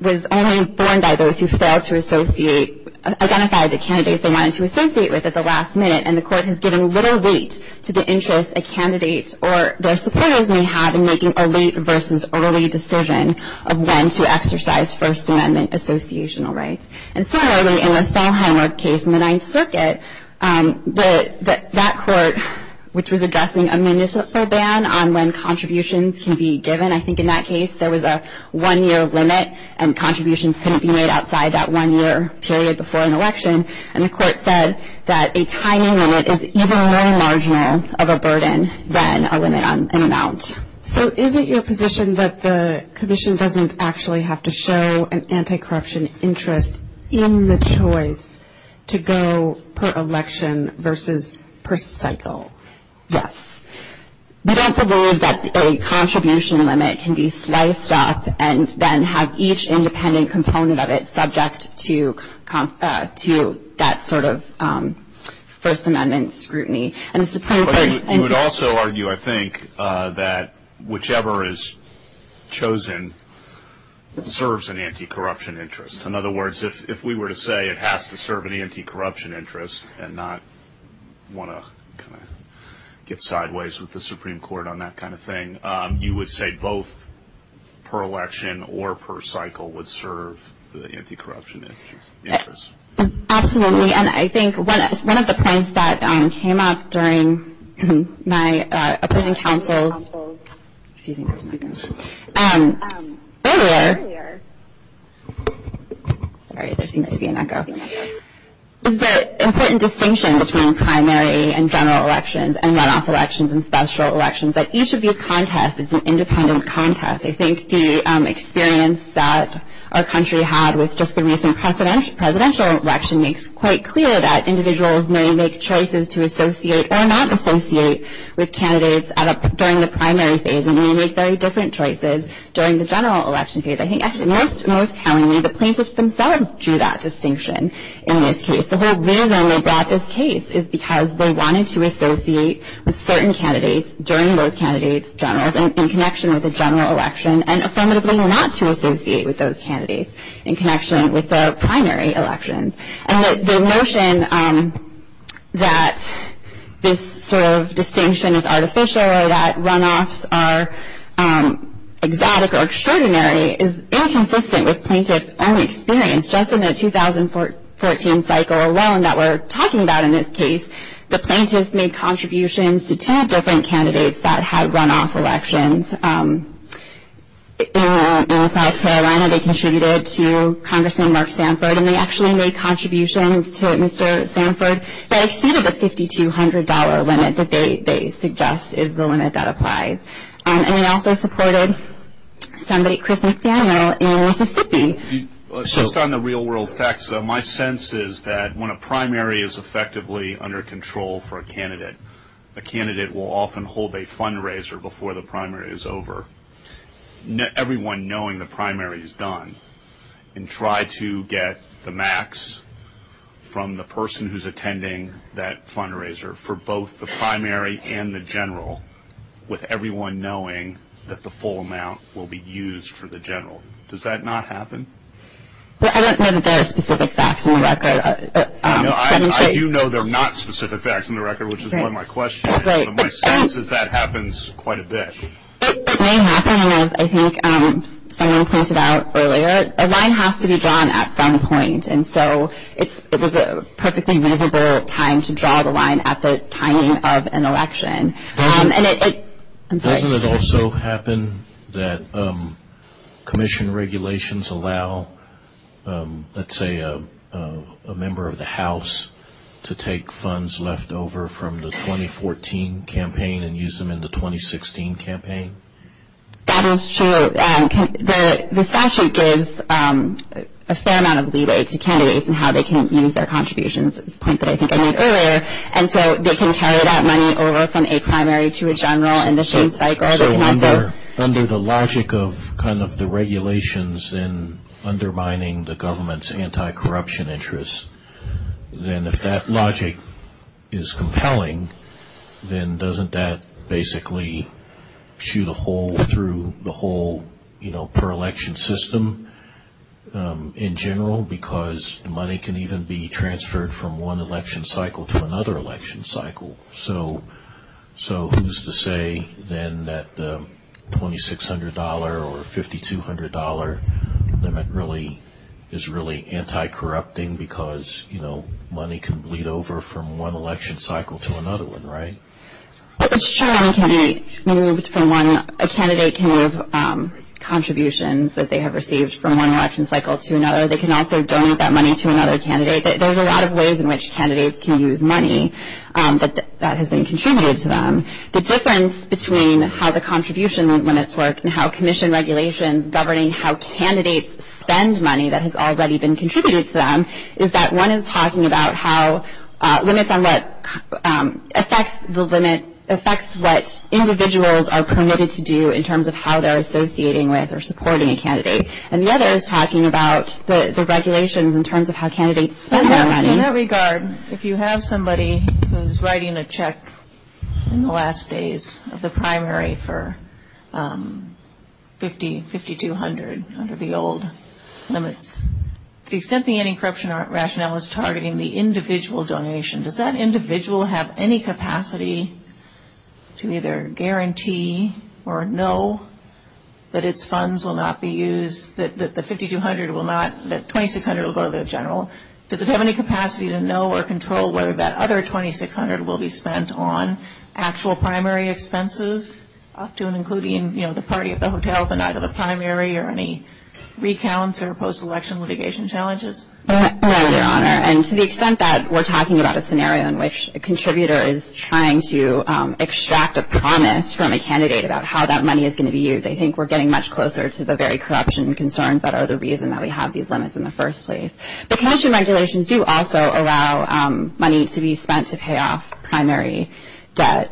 was only borne by those who failed to associate, identified the candidates they wanted to associate with at the last minute, and the court has given little weight to the interest a candidate or their supporters may have in making a late versus early decision of when to exercise First Amendment associational rights. And similarly, in the Sondheim case in the Ninth Circuit, that court, which was addressing a municipal ban on when contributions can be given, I think in that case, there was a one-year limit, and contributions couldn't be made outside that one-year period before an election, and the court says that a timing limit is even very large more of a burden than a limit on an amount. So is it your position that the position doesn't actually have to show an anti-corruption interest in the choice to go per election versus per cycle? Yes. We don't believe that a contribution limit can be sliced up and then have each independent component of it subject to that sort of First Amendment scrutiny. You would also argue, I think, that whichever is chosen serves an anti-corruption interest. In other words, if we were to say it has to serve an anti-corruption interest and not want to get sideways with the Supreme Court on that kind of thing, you would say both per election or per cycle would serve the anti-corruption interest? Absolutely. And I think one of the points that came up during my opinion council earlier, the important distinction between primary and general elections and runoff elections and special elections, that each of these contests is an independent contest. I think the experience that our country had with just the recent presidential election makes quite clear that individuals may make choices to associate or not associate with candidates during the primary phase and may make very different choices during the general election phase. I think actually in North County, the plaintiffs themselves drew that distinction in this case. The whole reason they brought this case is because they wanted to associate with certain candidates during both candidates' generals in connection with the general election and affirmatively not to associate with those candidates in connection with the primary elections. And the notion that this sort of distinction is artificial or that runoffs are exotic or extraordinary is inconsistent with plaintiffs' own experience. Just in the 2014 cycle alone that we're talking about in this case, the plaintiffs made contributions to 10 different candidates that had runoff elections. In South Carolina, they contributed to Congressman Mark Sanford, and they actually made contributions to Mr. Sanford that exceeded the $5,200 limit that they suggest is the limit that applies. And they also supported Senator Chris McDaniel in Mississippi. Just on the real-world facts, my sense is that when a primary is effectively under control for a candidate, a candidate will often hold a fundraiser before the primary is over, everyone knowing the primary is done, and try to get the max from the person who's attending that fundraiser for both the primary and the general, with everyone knowing that the full amount will be used for the general. Does that not happen? I don't know that there are specific facts in the record. I do know there are not specific facts in the record, which is why my question is, but my sense is that happens quite a bit. It may happen, and I think someone pointed out earlier, a line has to be drawn at some point, and so it was a perfectly reasonable time to draw the line at the timing of an election. Doesn't it also happen that commission regulations allow, let's say, a member of the House to take funds left over from the 2014 campaign and use them in the 2016 campaign? That is true. The statute gives a fair amount of leeway to candidates in how they can use their contributions, and so they can carry that money over from a primary to a general in the same cycle. So under the logic of kind of the regulations and undermining the government's anti-corruption interest, then if that logic is compelling, then doesn't that basically shoot a hole through the whole, you know, system in general because money can even be transferred from one election cycle to another election cycle? So who's to say then that the $2,600 or $5,200 limit really is really anti-corrupting because, you know, money can bleed over from one election cycle to another one, right? It's true when a candidate can move contributions that they have received from one election cycle to another. They can also donate that money to another candidate. There's a lot of ways in which candidates can use money that has been contributed to them. The difference between how the contribution limits work and how commission regulations governing how candidates spend money that has already been contributed to them is that one is talking about how limits on what affects the limit, affects what individuals are permitted to do in terms of how they're associating with or supporting a candidate, and the other is talking about the regulations in terms of how candidates spend their money. In that regard, if you have somebody who's writing a check in the last days of the primary for $5,200 under the old limits, to the extent the anti-corruption rationale is targeting the individual donation, does that individual have any capacity to either guarantee or know that its funds will not be used, that the $5,200 will not, that $2,600 will go to the general? Does it have any capacity to know or control whether that other $2,600 will be spent on actual primary expenses, often including, you know, the party at the hotel, but not at the primary, or any recounts or post-election litigation challenges? No, Your Honor, and to the extent that we're talking about a scenario in which a contributor is trying to extract a promise from a candidate about how that money is going to be used, I think we're getting much closer to the very corruption concerns that are the reason that we have these limits in the first place. The pension regulations do also allow money to be spent to pay off primary debt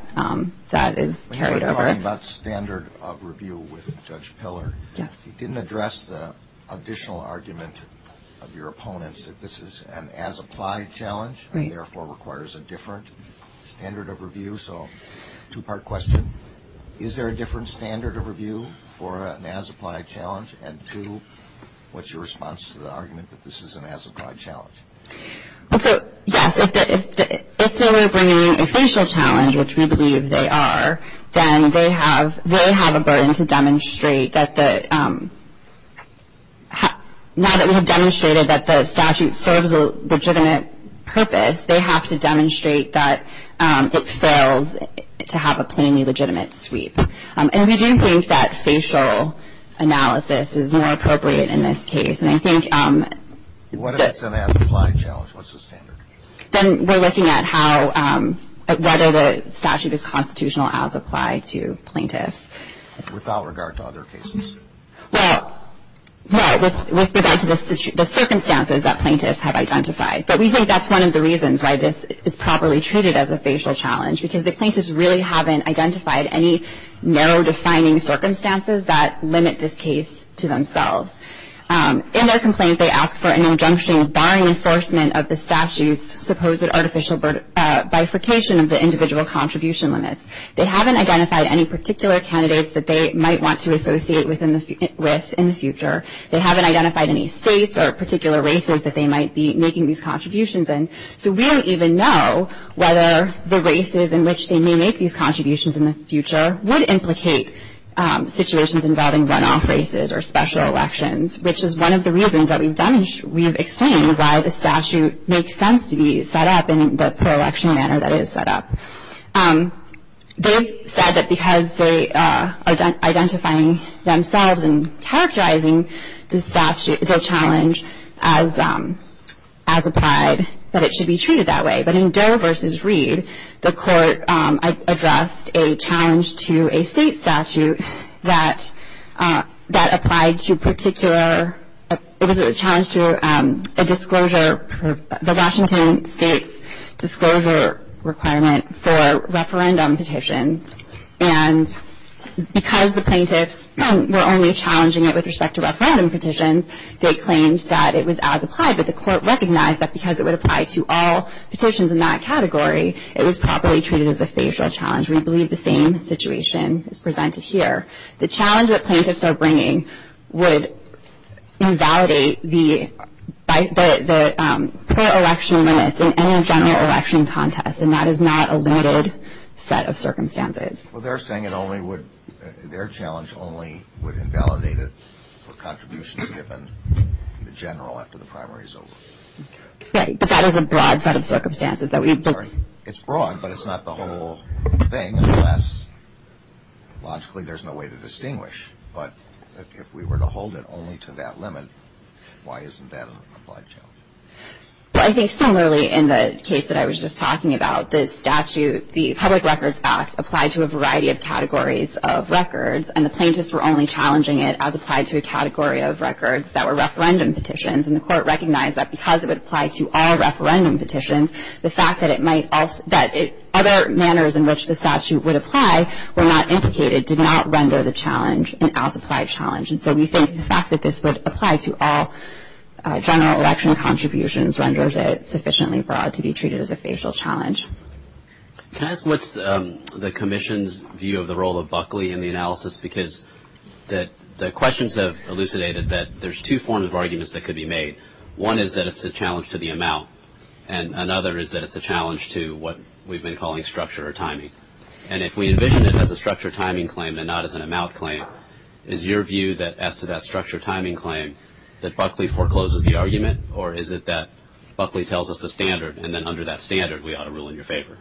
that is carried over. We're talking about standard of review with Judge Peller. He didn't address the additional argument of your opponents that this is an as-applied challenge and therefore requires a different standard of review, so two-part question. Is there a different standard of review for an as-applied challenge? And two, what's your response to the argument that this is an as-applied challenge? So, yes, if they were bringing a facial challenge, which we believe they are, then they have a burden to demonstrate that now that we have demonstrated that the statute serves a legitimate purpose, they have to demonstrate that it fails to have a plainly legitimate sweep. And we do think that facial analysis is more appropriate in this case. And I think- What is an as-applied challenge? What's the standard? Then we're looking at whether the statute is constitutional as applied to plaintiffs. Without regard to other cases. Well, no, with regard to the circumstances that plaintiffs have identified. But we think that's one of the reasons why this is properly treated as a facial challenge, because the plaintiffs really haven't identified any narrow, defining circumstances that limit this case to themselves. In their complaint, they ask for an injunction barring enforcement of the statute's supposed artificial bifurcation of the individual contribution limits. They haven't identified any particular candidates that they might want to associate with in the future. They haven't identified any states or particular races that they might be making these contributions in. So we don't even know whether the races in which they may make these contributions in the future would implicate situations involving runoff races or special elections, which is one of the reasons that we've explained why the statute makes sense to be set up in the pro-election manner that it is set up. They said that because they are identifying themselves and characterizing the statute, the challenge as applied, that it should be treated that way. But in Doe v. Reed, the court addressed a challenge to a state statute that applied to particular, it was a challenge to a disclosure, the Washington state disclosure requirement for referendum petition. And because the plaintiffs were only challenging it with respect to referendum petitions, they claimed that it was as applied. But the court recognized that because it would apply to all petitions in that category, it was properly treated as a facial challenge. We believe the same situation is presented here. The challenge that plaintiffs are bringing would invalidate the pro-election minutes in any general election contest, and that is not a limited set of circumstances. Well, they're saying it only would, their challenge only would invalidate it for contributions given to the general after the primary is over. Right, but that is a broad set of circumstances that we've discussed. It's broad, but it's not the whole thing, unless logically there's no way to distinguish. But if we were to hold it only to that limit, why isn't that an applied challenge? Well, I think similarly in the case that I was just talking about, the statute, the public records act applied to a variety of categories of records, and the plaintiffs were only challenging it as applied to a category of records that were referendum petitions. And the court recognized that because it would apply to all referendum petitions, the fact that other manners in which the statute would apply were not indicated, did not render the challenge an out-of-sight challenge. And so we think the fact that this would apply to all general election contributions renders it sufficiently broad to be treated as a facial challenge. Can I ask what's the commission's view of the role of Buckley in the analysis? Because the questions have elucidated that there's two forms of arguments that could be made. One is that it's a challenge to the amount, and another is that it's a challenge to what we've been calling structure or timing. And if we envision it as a structure timing claim and not as an amount claim, is your view that as to that structure timing claim that Buckley forecloses the argument, or is it that Buckley tells us the standard, and then under that standard we ought to rule in your favor?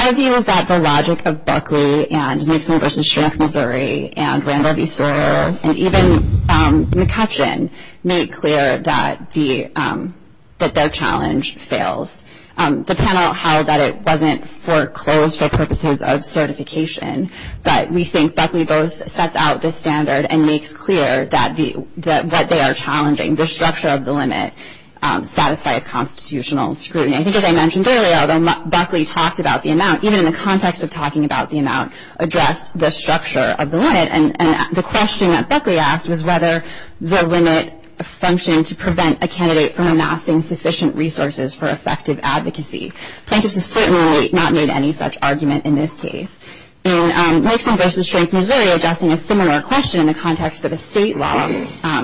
Our view is that the logic of Buckley and Nixon versus Sheriff Missouri and even McCutcheon made clear that their challenge fails. The panel held that it wasn't foreclosed for purposes of certification, but we think Buckley both sets out the standard and makes clear that what they are challenging, the structure of the limit, satisfied constitutional scrutiny. I think as I mentioned earlier, although Buckley talked about the amount, even in the context of talking about the amount, addressed the structure of the limit, and the question that Buckley asked was whether the limit functioned to prevent a candidate from amassing sufficient resources for effective advocacy. The plaintiff has certainly not made any such argument in this case. In Nixon versus Sheriff Missouri, addressing a similar question in the context of a state law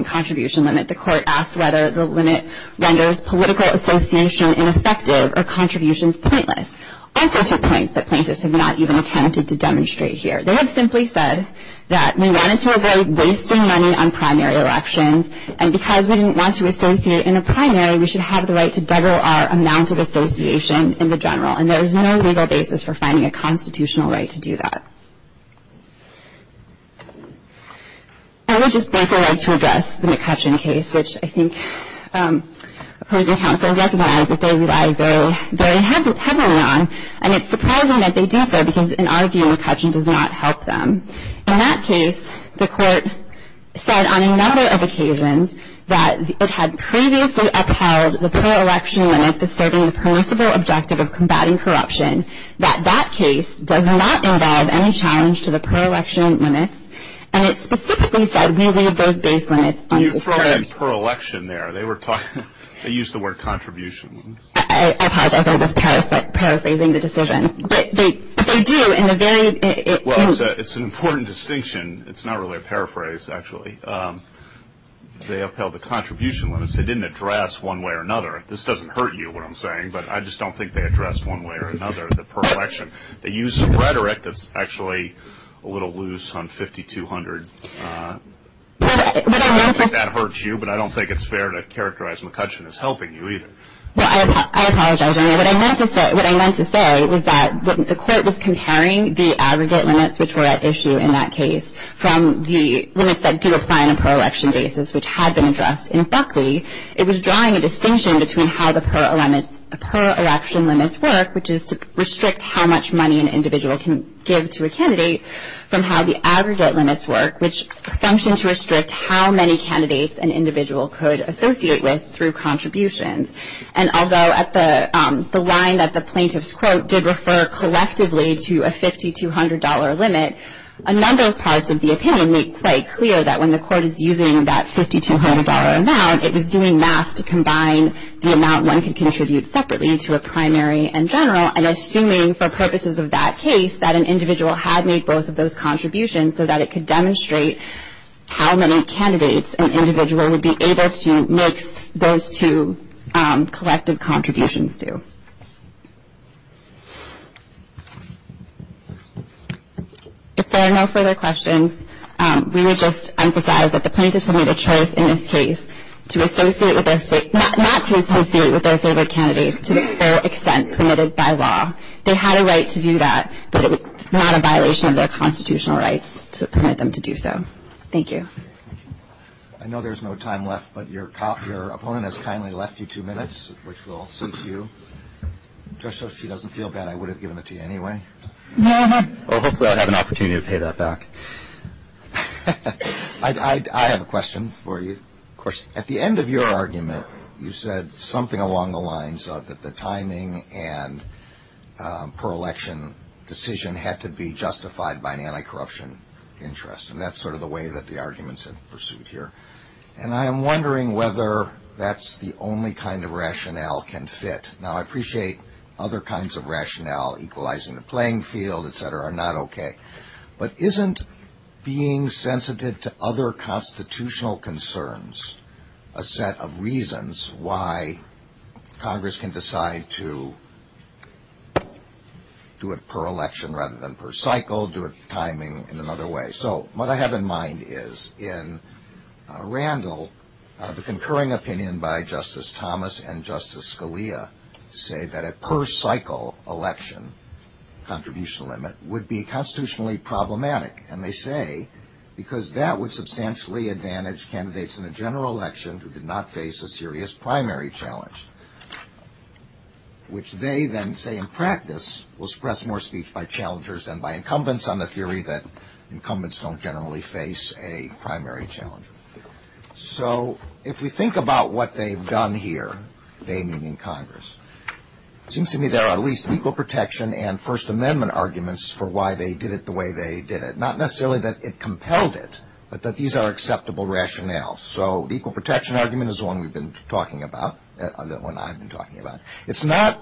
contribution limit, the court asked whether the limit renders political association ineffective or contributions pointless. Also some points that plaintiffs have not even attempted to demonstrate here. They have simply said that we wanted to avoid wasting money on primary elections, and because we didn't want to associate in a primary, we should have the right to double our amount of association in the general, and there is no legal basis for finding a constitutional right to do that. I would just therefore like to address the McCutcheon case, which I think opposing counsel recognized that they relied very heavily on, and it's surprising that they do so, because in our view, McCutcheon does not help them. In that case, the court said on a number of occasions that it had previously upheld the per-election limit disturbing the principle objective of combating corruption, that that case does not involve any challenge to the per-election limit, and it specifically said we need those base limits. You throw in per-election there. They used the word contributions. I apologize. I was paraphrasing the decision. But they do, and they're very – Well, it's an important distinction. It's not really a paraphrase, actually. They upheld the contribution limits. They didn't address one way or another. This doesn't hurt you, what I'm saying, but I just don't think they addressed one way or another, the per-election. They used some rhetoric that's actually a little loose on 5200. I don't think that hurts you, but I don't think it's fair to characterize McCutcheon as helping you either. Well, I apologize. What I meant to say was that the court was comparing the aggregate limits, which were at issue in that case, from the limits that do apply on a per-election basis, which had been addressed. And luckily, it was drawing a distinction between how the per-election limits work, which is to restrict how much money an individual can give to a candidate, from how the aggregate limits work, which function to restrict how many candidates an individual could associate with through contributions. And although at the line that the plaintiff's quote did refer collectively to a $5,200 limit, a number of parts of the opinion make quite clear that when the court is using that $5,200 amount, it was doing math to combine the amount one could contribute separately to a primary and general, and assuming for purposes of that case that an individual had made both of those contributions so that it could demonstrate how many candidates an individual would be able to make those two collective contributions to. If there are no further questions, we would just emphasize that the plaintiffs will have a choice in this case to associate with their state, not to associate with their favorite candidates to their extent permitted by law. They had a right to do that, but it was not a violation of their constitutional rights to permit them to do so. Thank you. I know there's no time left, but your opponent has kindly left you two minutes, which will cease you. Just so she doesn't feel bad, I would have given it to you anyway. Well, hopefully I'd have an opportunity to pay that back. I have a question for you. Of course, at the end of your argument, you said something along the lines of that the timing and pro-election decision had to be justified by an anti-corruption interest, and that's sort of the way that the arguments are pursued here. And I'm wondering whether that's the only kind of rationale that can fit. Now, I appreciate other kinds of rationale, equalizing the playing field, et cetera, are not okay. But isn't being sensitive to other constitutional concerns a set of reasons why Congress can decide to do it pro-election rather than pro-cycle, do it timing in another way? So what I have in mind is in Randall, the concurring opinion by Justice Thomas and Justice Scalia say that a pro-cycle election contribution limit would be constitutionally problematic. And they say because that would substantially advantage candidates in the general election who did not face a serious primary challenge, which they then say in practice will express more speech by challengers than by incumbents on the theory that incumbents don't generally face a primary challenge. So if we think about what they've done here, they meaning Congress, it seems to me there are at least legal protection and First Amendment arguments for why they did it the way they did it. Not necessarily that it compelled it, but that these are acceptable rationales. So the equal protection argument is the one we've been talking about, the one I've been talking about. It's not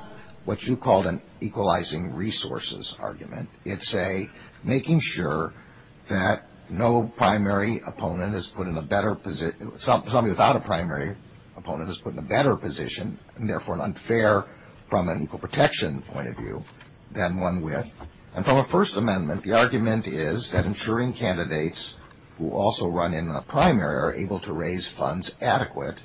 what you call an equalizing resources argument. It's a making sure that no primary opponent is put in a better position, somebody without a primary opponent is put in a better position, and therefore unfair from an equal protection point of view than one with. And from a First Amendment, the argument is that ensuring candidates who also run in a primary are able to raise funds adequate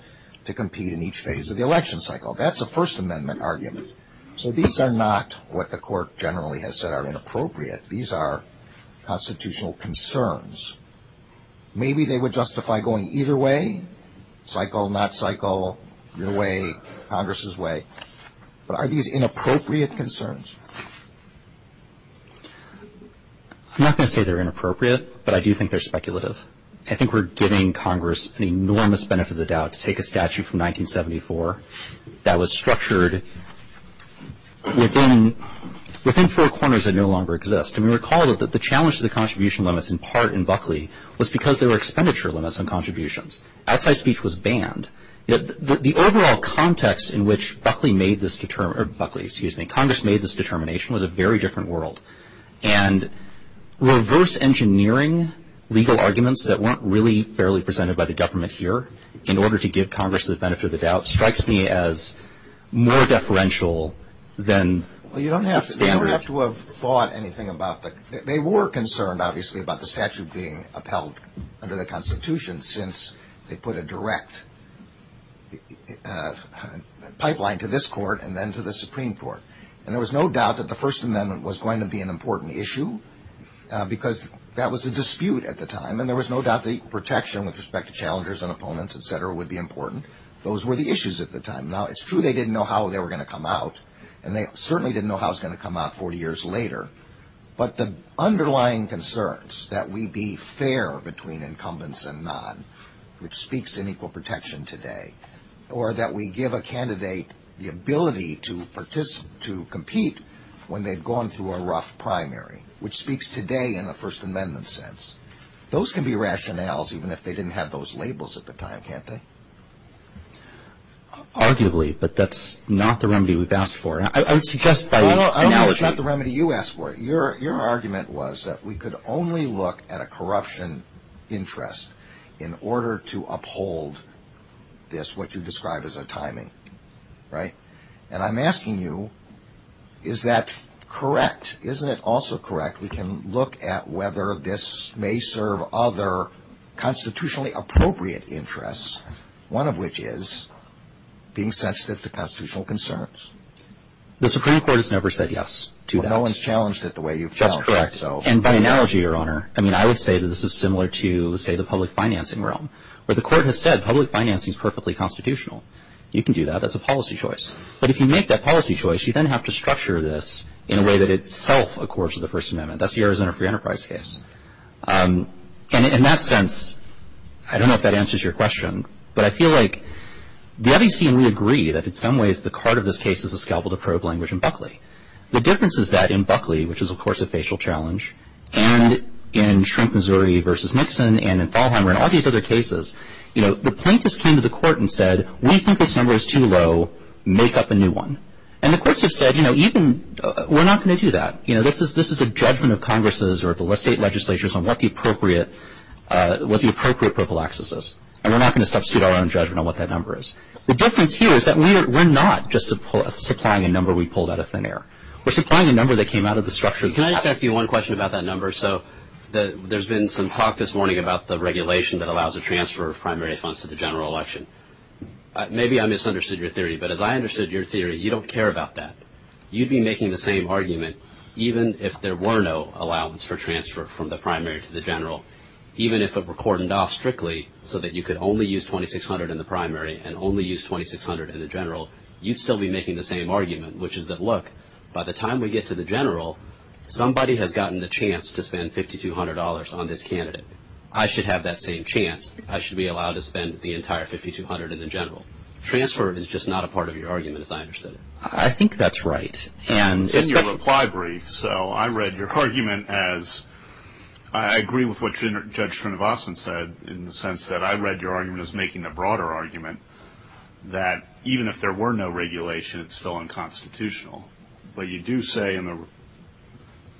to compete in each phase of the election cycle. That's a First Amendment argument. So these are not what the court generally has said are inappropriate. These are constitutional concerns. Maybe they would justify going either way, cycle, not cycle, your way, Congress's way. But are these inappropriate concerns? I'm not going to say they're inappropriate, but I do think they're speculative. I think we're giving Congress an enormous benefit of the doubt to take a statute from 1974 that was structured within four corners that no longer exist. And we recall that the challenge to the contribution limits, in part in Buckley, was because there were expenditure limits on contributions. Outside speech was banned. The overall context in which Buckley made this, or Buckley, excuse me, Congress made this determination was a very different world. And reverse engineering legal arguments that weren't really fairly presented by the government here in order to give Congress the benefit of the doubt strikes me as more deferential than... Well, you don't have to have thought anything about that. They were concerned, obviously, about the statute being upheld under the Constitution since they put a direct pipeline to this court and then to the Supreme Court. And there was no doubt that the First Amendment was going to be an important issue because that was a dispute at the time, and there was no doubt the protection with respect to challengers and opponents, et cetera, would be important. Those were the issues at the time. Now, it's true they didn't know how they were going to come out, and they certainly didn't know how it was going to come out 40 years later. But the underlying concerns that we be fair between incumbents and non, which speaks in equal protection today, or that we give a candidate the ability to compete when they've gone through a rough primary, which speaks today in a First Amendment sense. Those can be rationales even if they didn't have those labels at the time, can't they? Arguably, but that's not the remedy we've asked for. I would suggest by... No, it's not the remedy you asked for. Your argument was that we could only look at a corruption interest in order to uphold this, what you described as a timing, right? And I'm asking you, is that correct? Isn't it also correct we can look at whether this may serve other constitutionally appropriate interests, one of which is being sensitive to constitutional concerns? The Supreme Court has never said yes to that. That's correct. And by analogy, Your Honor, I mean, I would say that this is similar to, say, the public financing realm, where the court has said public financing is perfectly constitutional. You can do that. That's a policy choice. But if you make that policy choice, you then have to structure this in a way that itself accords with the First Amendment. That's yours in a free enterprise case. And in that sense, I don't know if that answers your question, but I feel like the other team, we agree that in some ways the card of this case is a scalpel to probe language in Buckley. The difference is that in Buckley, which is, of course, a facial challenge, and in Shrink, Missouri v. Nixon and in Fallhammer and all these other cases, the plaintiffs came to the court and said, we think this number is too low. Make up a new one. And the courts have said, you know, we're not going to do that. This is a judgment of Congress's or the state legislature's on what the appropriate prophylaxis is, and we're not going to substitute our own judgment on what that number is. The difference here is that we're not just supplying a number we pulled out of thin air. We're supplying a number that came out of the structure of the act. Can I ask you one question about that number? So there's been some talk this morning about the regulation that allows the transfer of primary funds to the general election. Maybe I misunderstood your theory, but as I understood your theory, you don't care about that. You'd be making the same argument even if there were no allowance for transfer from the primary to the general, even if it were cordoned off strictly so that you could only use $2,600 in the primary and only use $2,600 in the general. You'd still be making the same argument, which is that, look, by the time we get to the general, somebody has gotten the chance to spend $5,200 on this candidate. I should have that same chance. I should be allowed to spend the entire $5,200 in the general. Transfer is just not a part of your argument, as I understood it. I think that's right. In your reply brief, so I read your argument as – I agree with what Judge Trinovason said in the sense that I read your argument as making the broader argument that even if there were no regulation, it's still unconstitutional. But you do say in the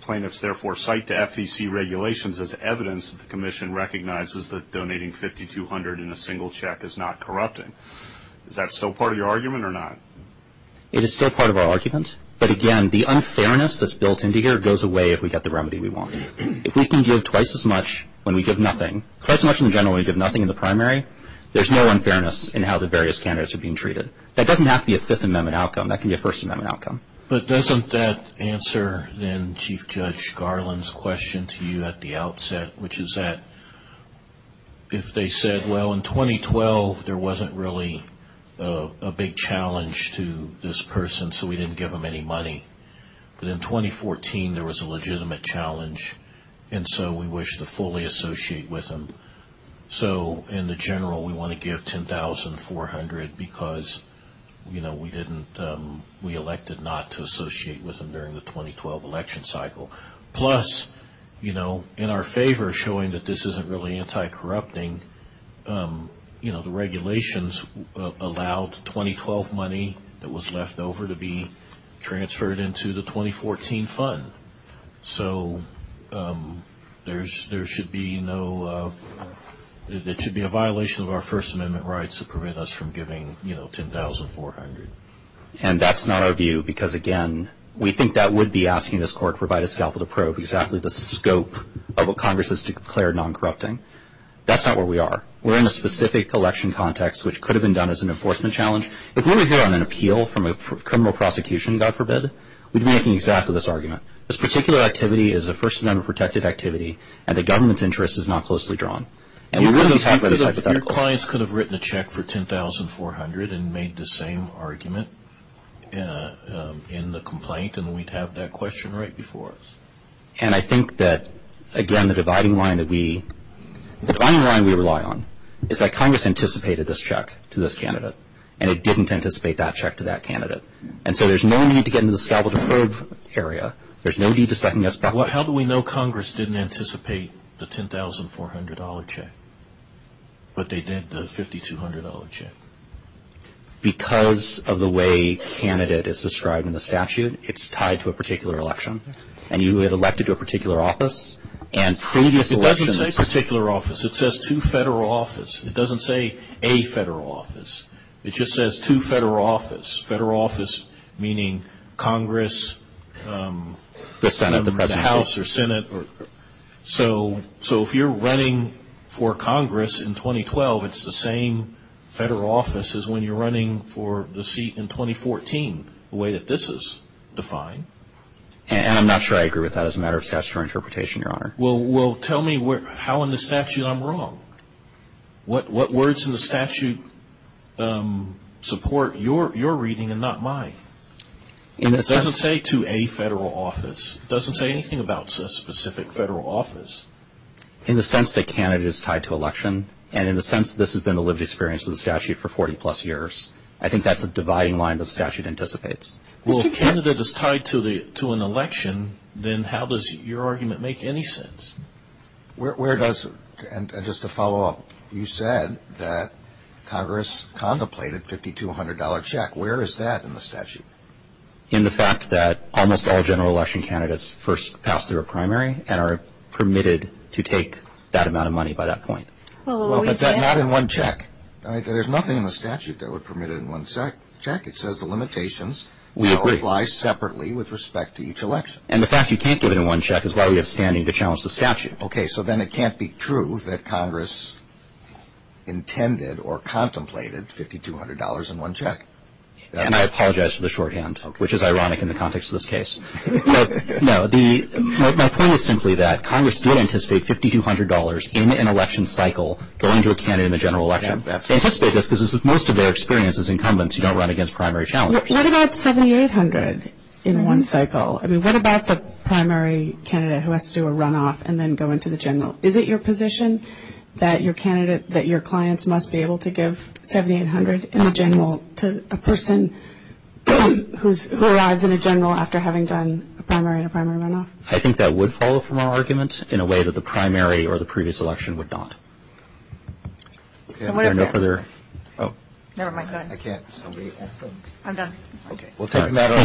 plaintiff's therefore cite to FEC regulations as evidence that the commission recognizes that donating $5,200 in a single check is not corrupting. Is that still part of your argument or not? It is still part of our argument. But again, the unfairness that's built into here goes away if we get the remedy we want. If we can give twice as much when we give nothing – twice as much in general when we give nothing in the primary, there's no unfairness in how the various candidates are being treated. That doesn't have to be a Fifth Amendment outcome. That can be a First Amendment outcome. But doesn't that answer then Chief Judge Garland's question to you at the outset, which is that if they said, well, in 2012, there wasn't really a big challenge to this person, so we didn't give them any money. But in 2014, there was a legitimate challenge, and so we wish to fully associate with them. So in the general, we want to give $10,400 because, you know, we didn't – we elected not to associate with them during the 2012 election cycle. Plus, you know, in our favor, showing that this isn't really anti-corrupting, you know, the regulations allowed 2012 money that was left over to be transferred into the 2014 fund. So there should be no – there should be a violation of our First Amendment rights to prevent us from giving, you know, $10,400. And that's not our view because, again, we think that would be asking this court to provide a scalpel to probe exactly the scope of what Congress has declared non-corrupting. That's not where we are. We're in a specific election context, which could have been done as an enforcement challenge. If we were here on an appeal from a criminal prosecution, God forbid, we'd be making exactly this argument. This particular activity is a First Amendment protected activity, and the government's interest is not closely drawn. Your clients could have written a check for $10,400 and made the same argument in the complaint, and we'd have that question right before us. And I think that, again, the dividing line that we – the dividing line we rely on is that Congress anticipated this check to this candidate, and it didn't anticipate that check to that candidate. And so there's no need to get into the scalpel to probe area. There's no need to second-guess that. How do we know Congress didn't anticipate the $10,400 check, but they did the $5,200 check? Because of the way candidate is described in the statute, it's tied to a particular election, and you had elected to a particular office, and previous elections – It doesn't say particular office. It says two federal offices. It doesn't say a federal office. It just says two federal offices, federal office meaning Congress – The Senate, the House, or Senate. So if you're running for Congress in 2012, it's the same federal office as when you're running for the seat in 2014, the way that this is defined. And I'm not sure I agree with that as a matter of statutory interpretation, Your Honor. Well, tell me how in the statute I'm wrong. What words in the statute support your reading and not mine? It doesn't say to a federal office. It doesn't say anything about a specific federal office. In the sense that candidate is tied to election, and in the sense that this has been the lived experience of the statute for 40-plus years, I think that's a dividing line the statute anticipates. Well, if candidate is tied to an election, then how does your argument make any sense? Where does – and just to follow up, you said that Congress contemplated $5,200 check. Where is that in the statute? In the fact that almost all general election candidates first pass through a primary and are permitted to take that amount of money by that point. But that's not in one check. There's nothing in the statute that would permit it in one check. It says the limitations now apply separately with respect to each election. And the fact you can't give it in one check is why we have standing to challenge the statute. Okay, so then it can't be true that Congress intended or contemplated $5,200 in one check. And I apologize for the shorthand, which is ironic in the context of this case. No, my point was simply that Congress did anticipate $5,200 in an election cycle going to a candidate in the general election. They anticipate this because this is most of their experience as incumbents. You don't run against primary challenge. What about 7,800 in one cycle? I mean, what about the primary candidate who has to do a runoff and then go into the general? Is it your position that your clients must be able to give 7,800 in the general to a person who arrives in a general after having done a primary and a primary runoff? I think that would follow from our arguments in a way that the primary or the previous election would not. Is there no further? Never mind, go ahead. I can't. I'm done. Okay. We'll take that.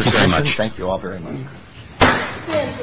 Thank you all very much.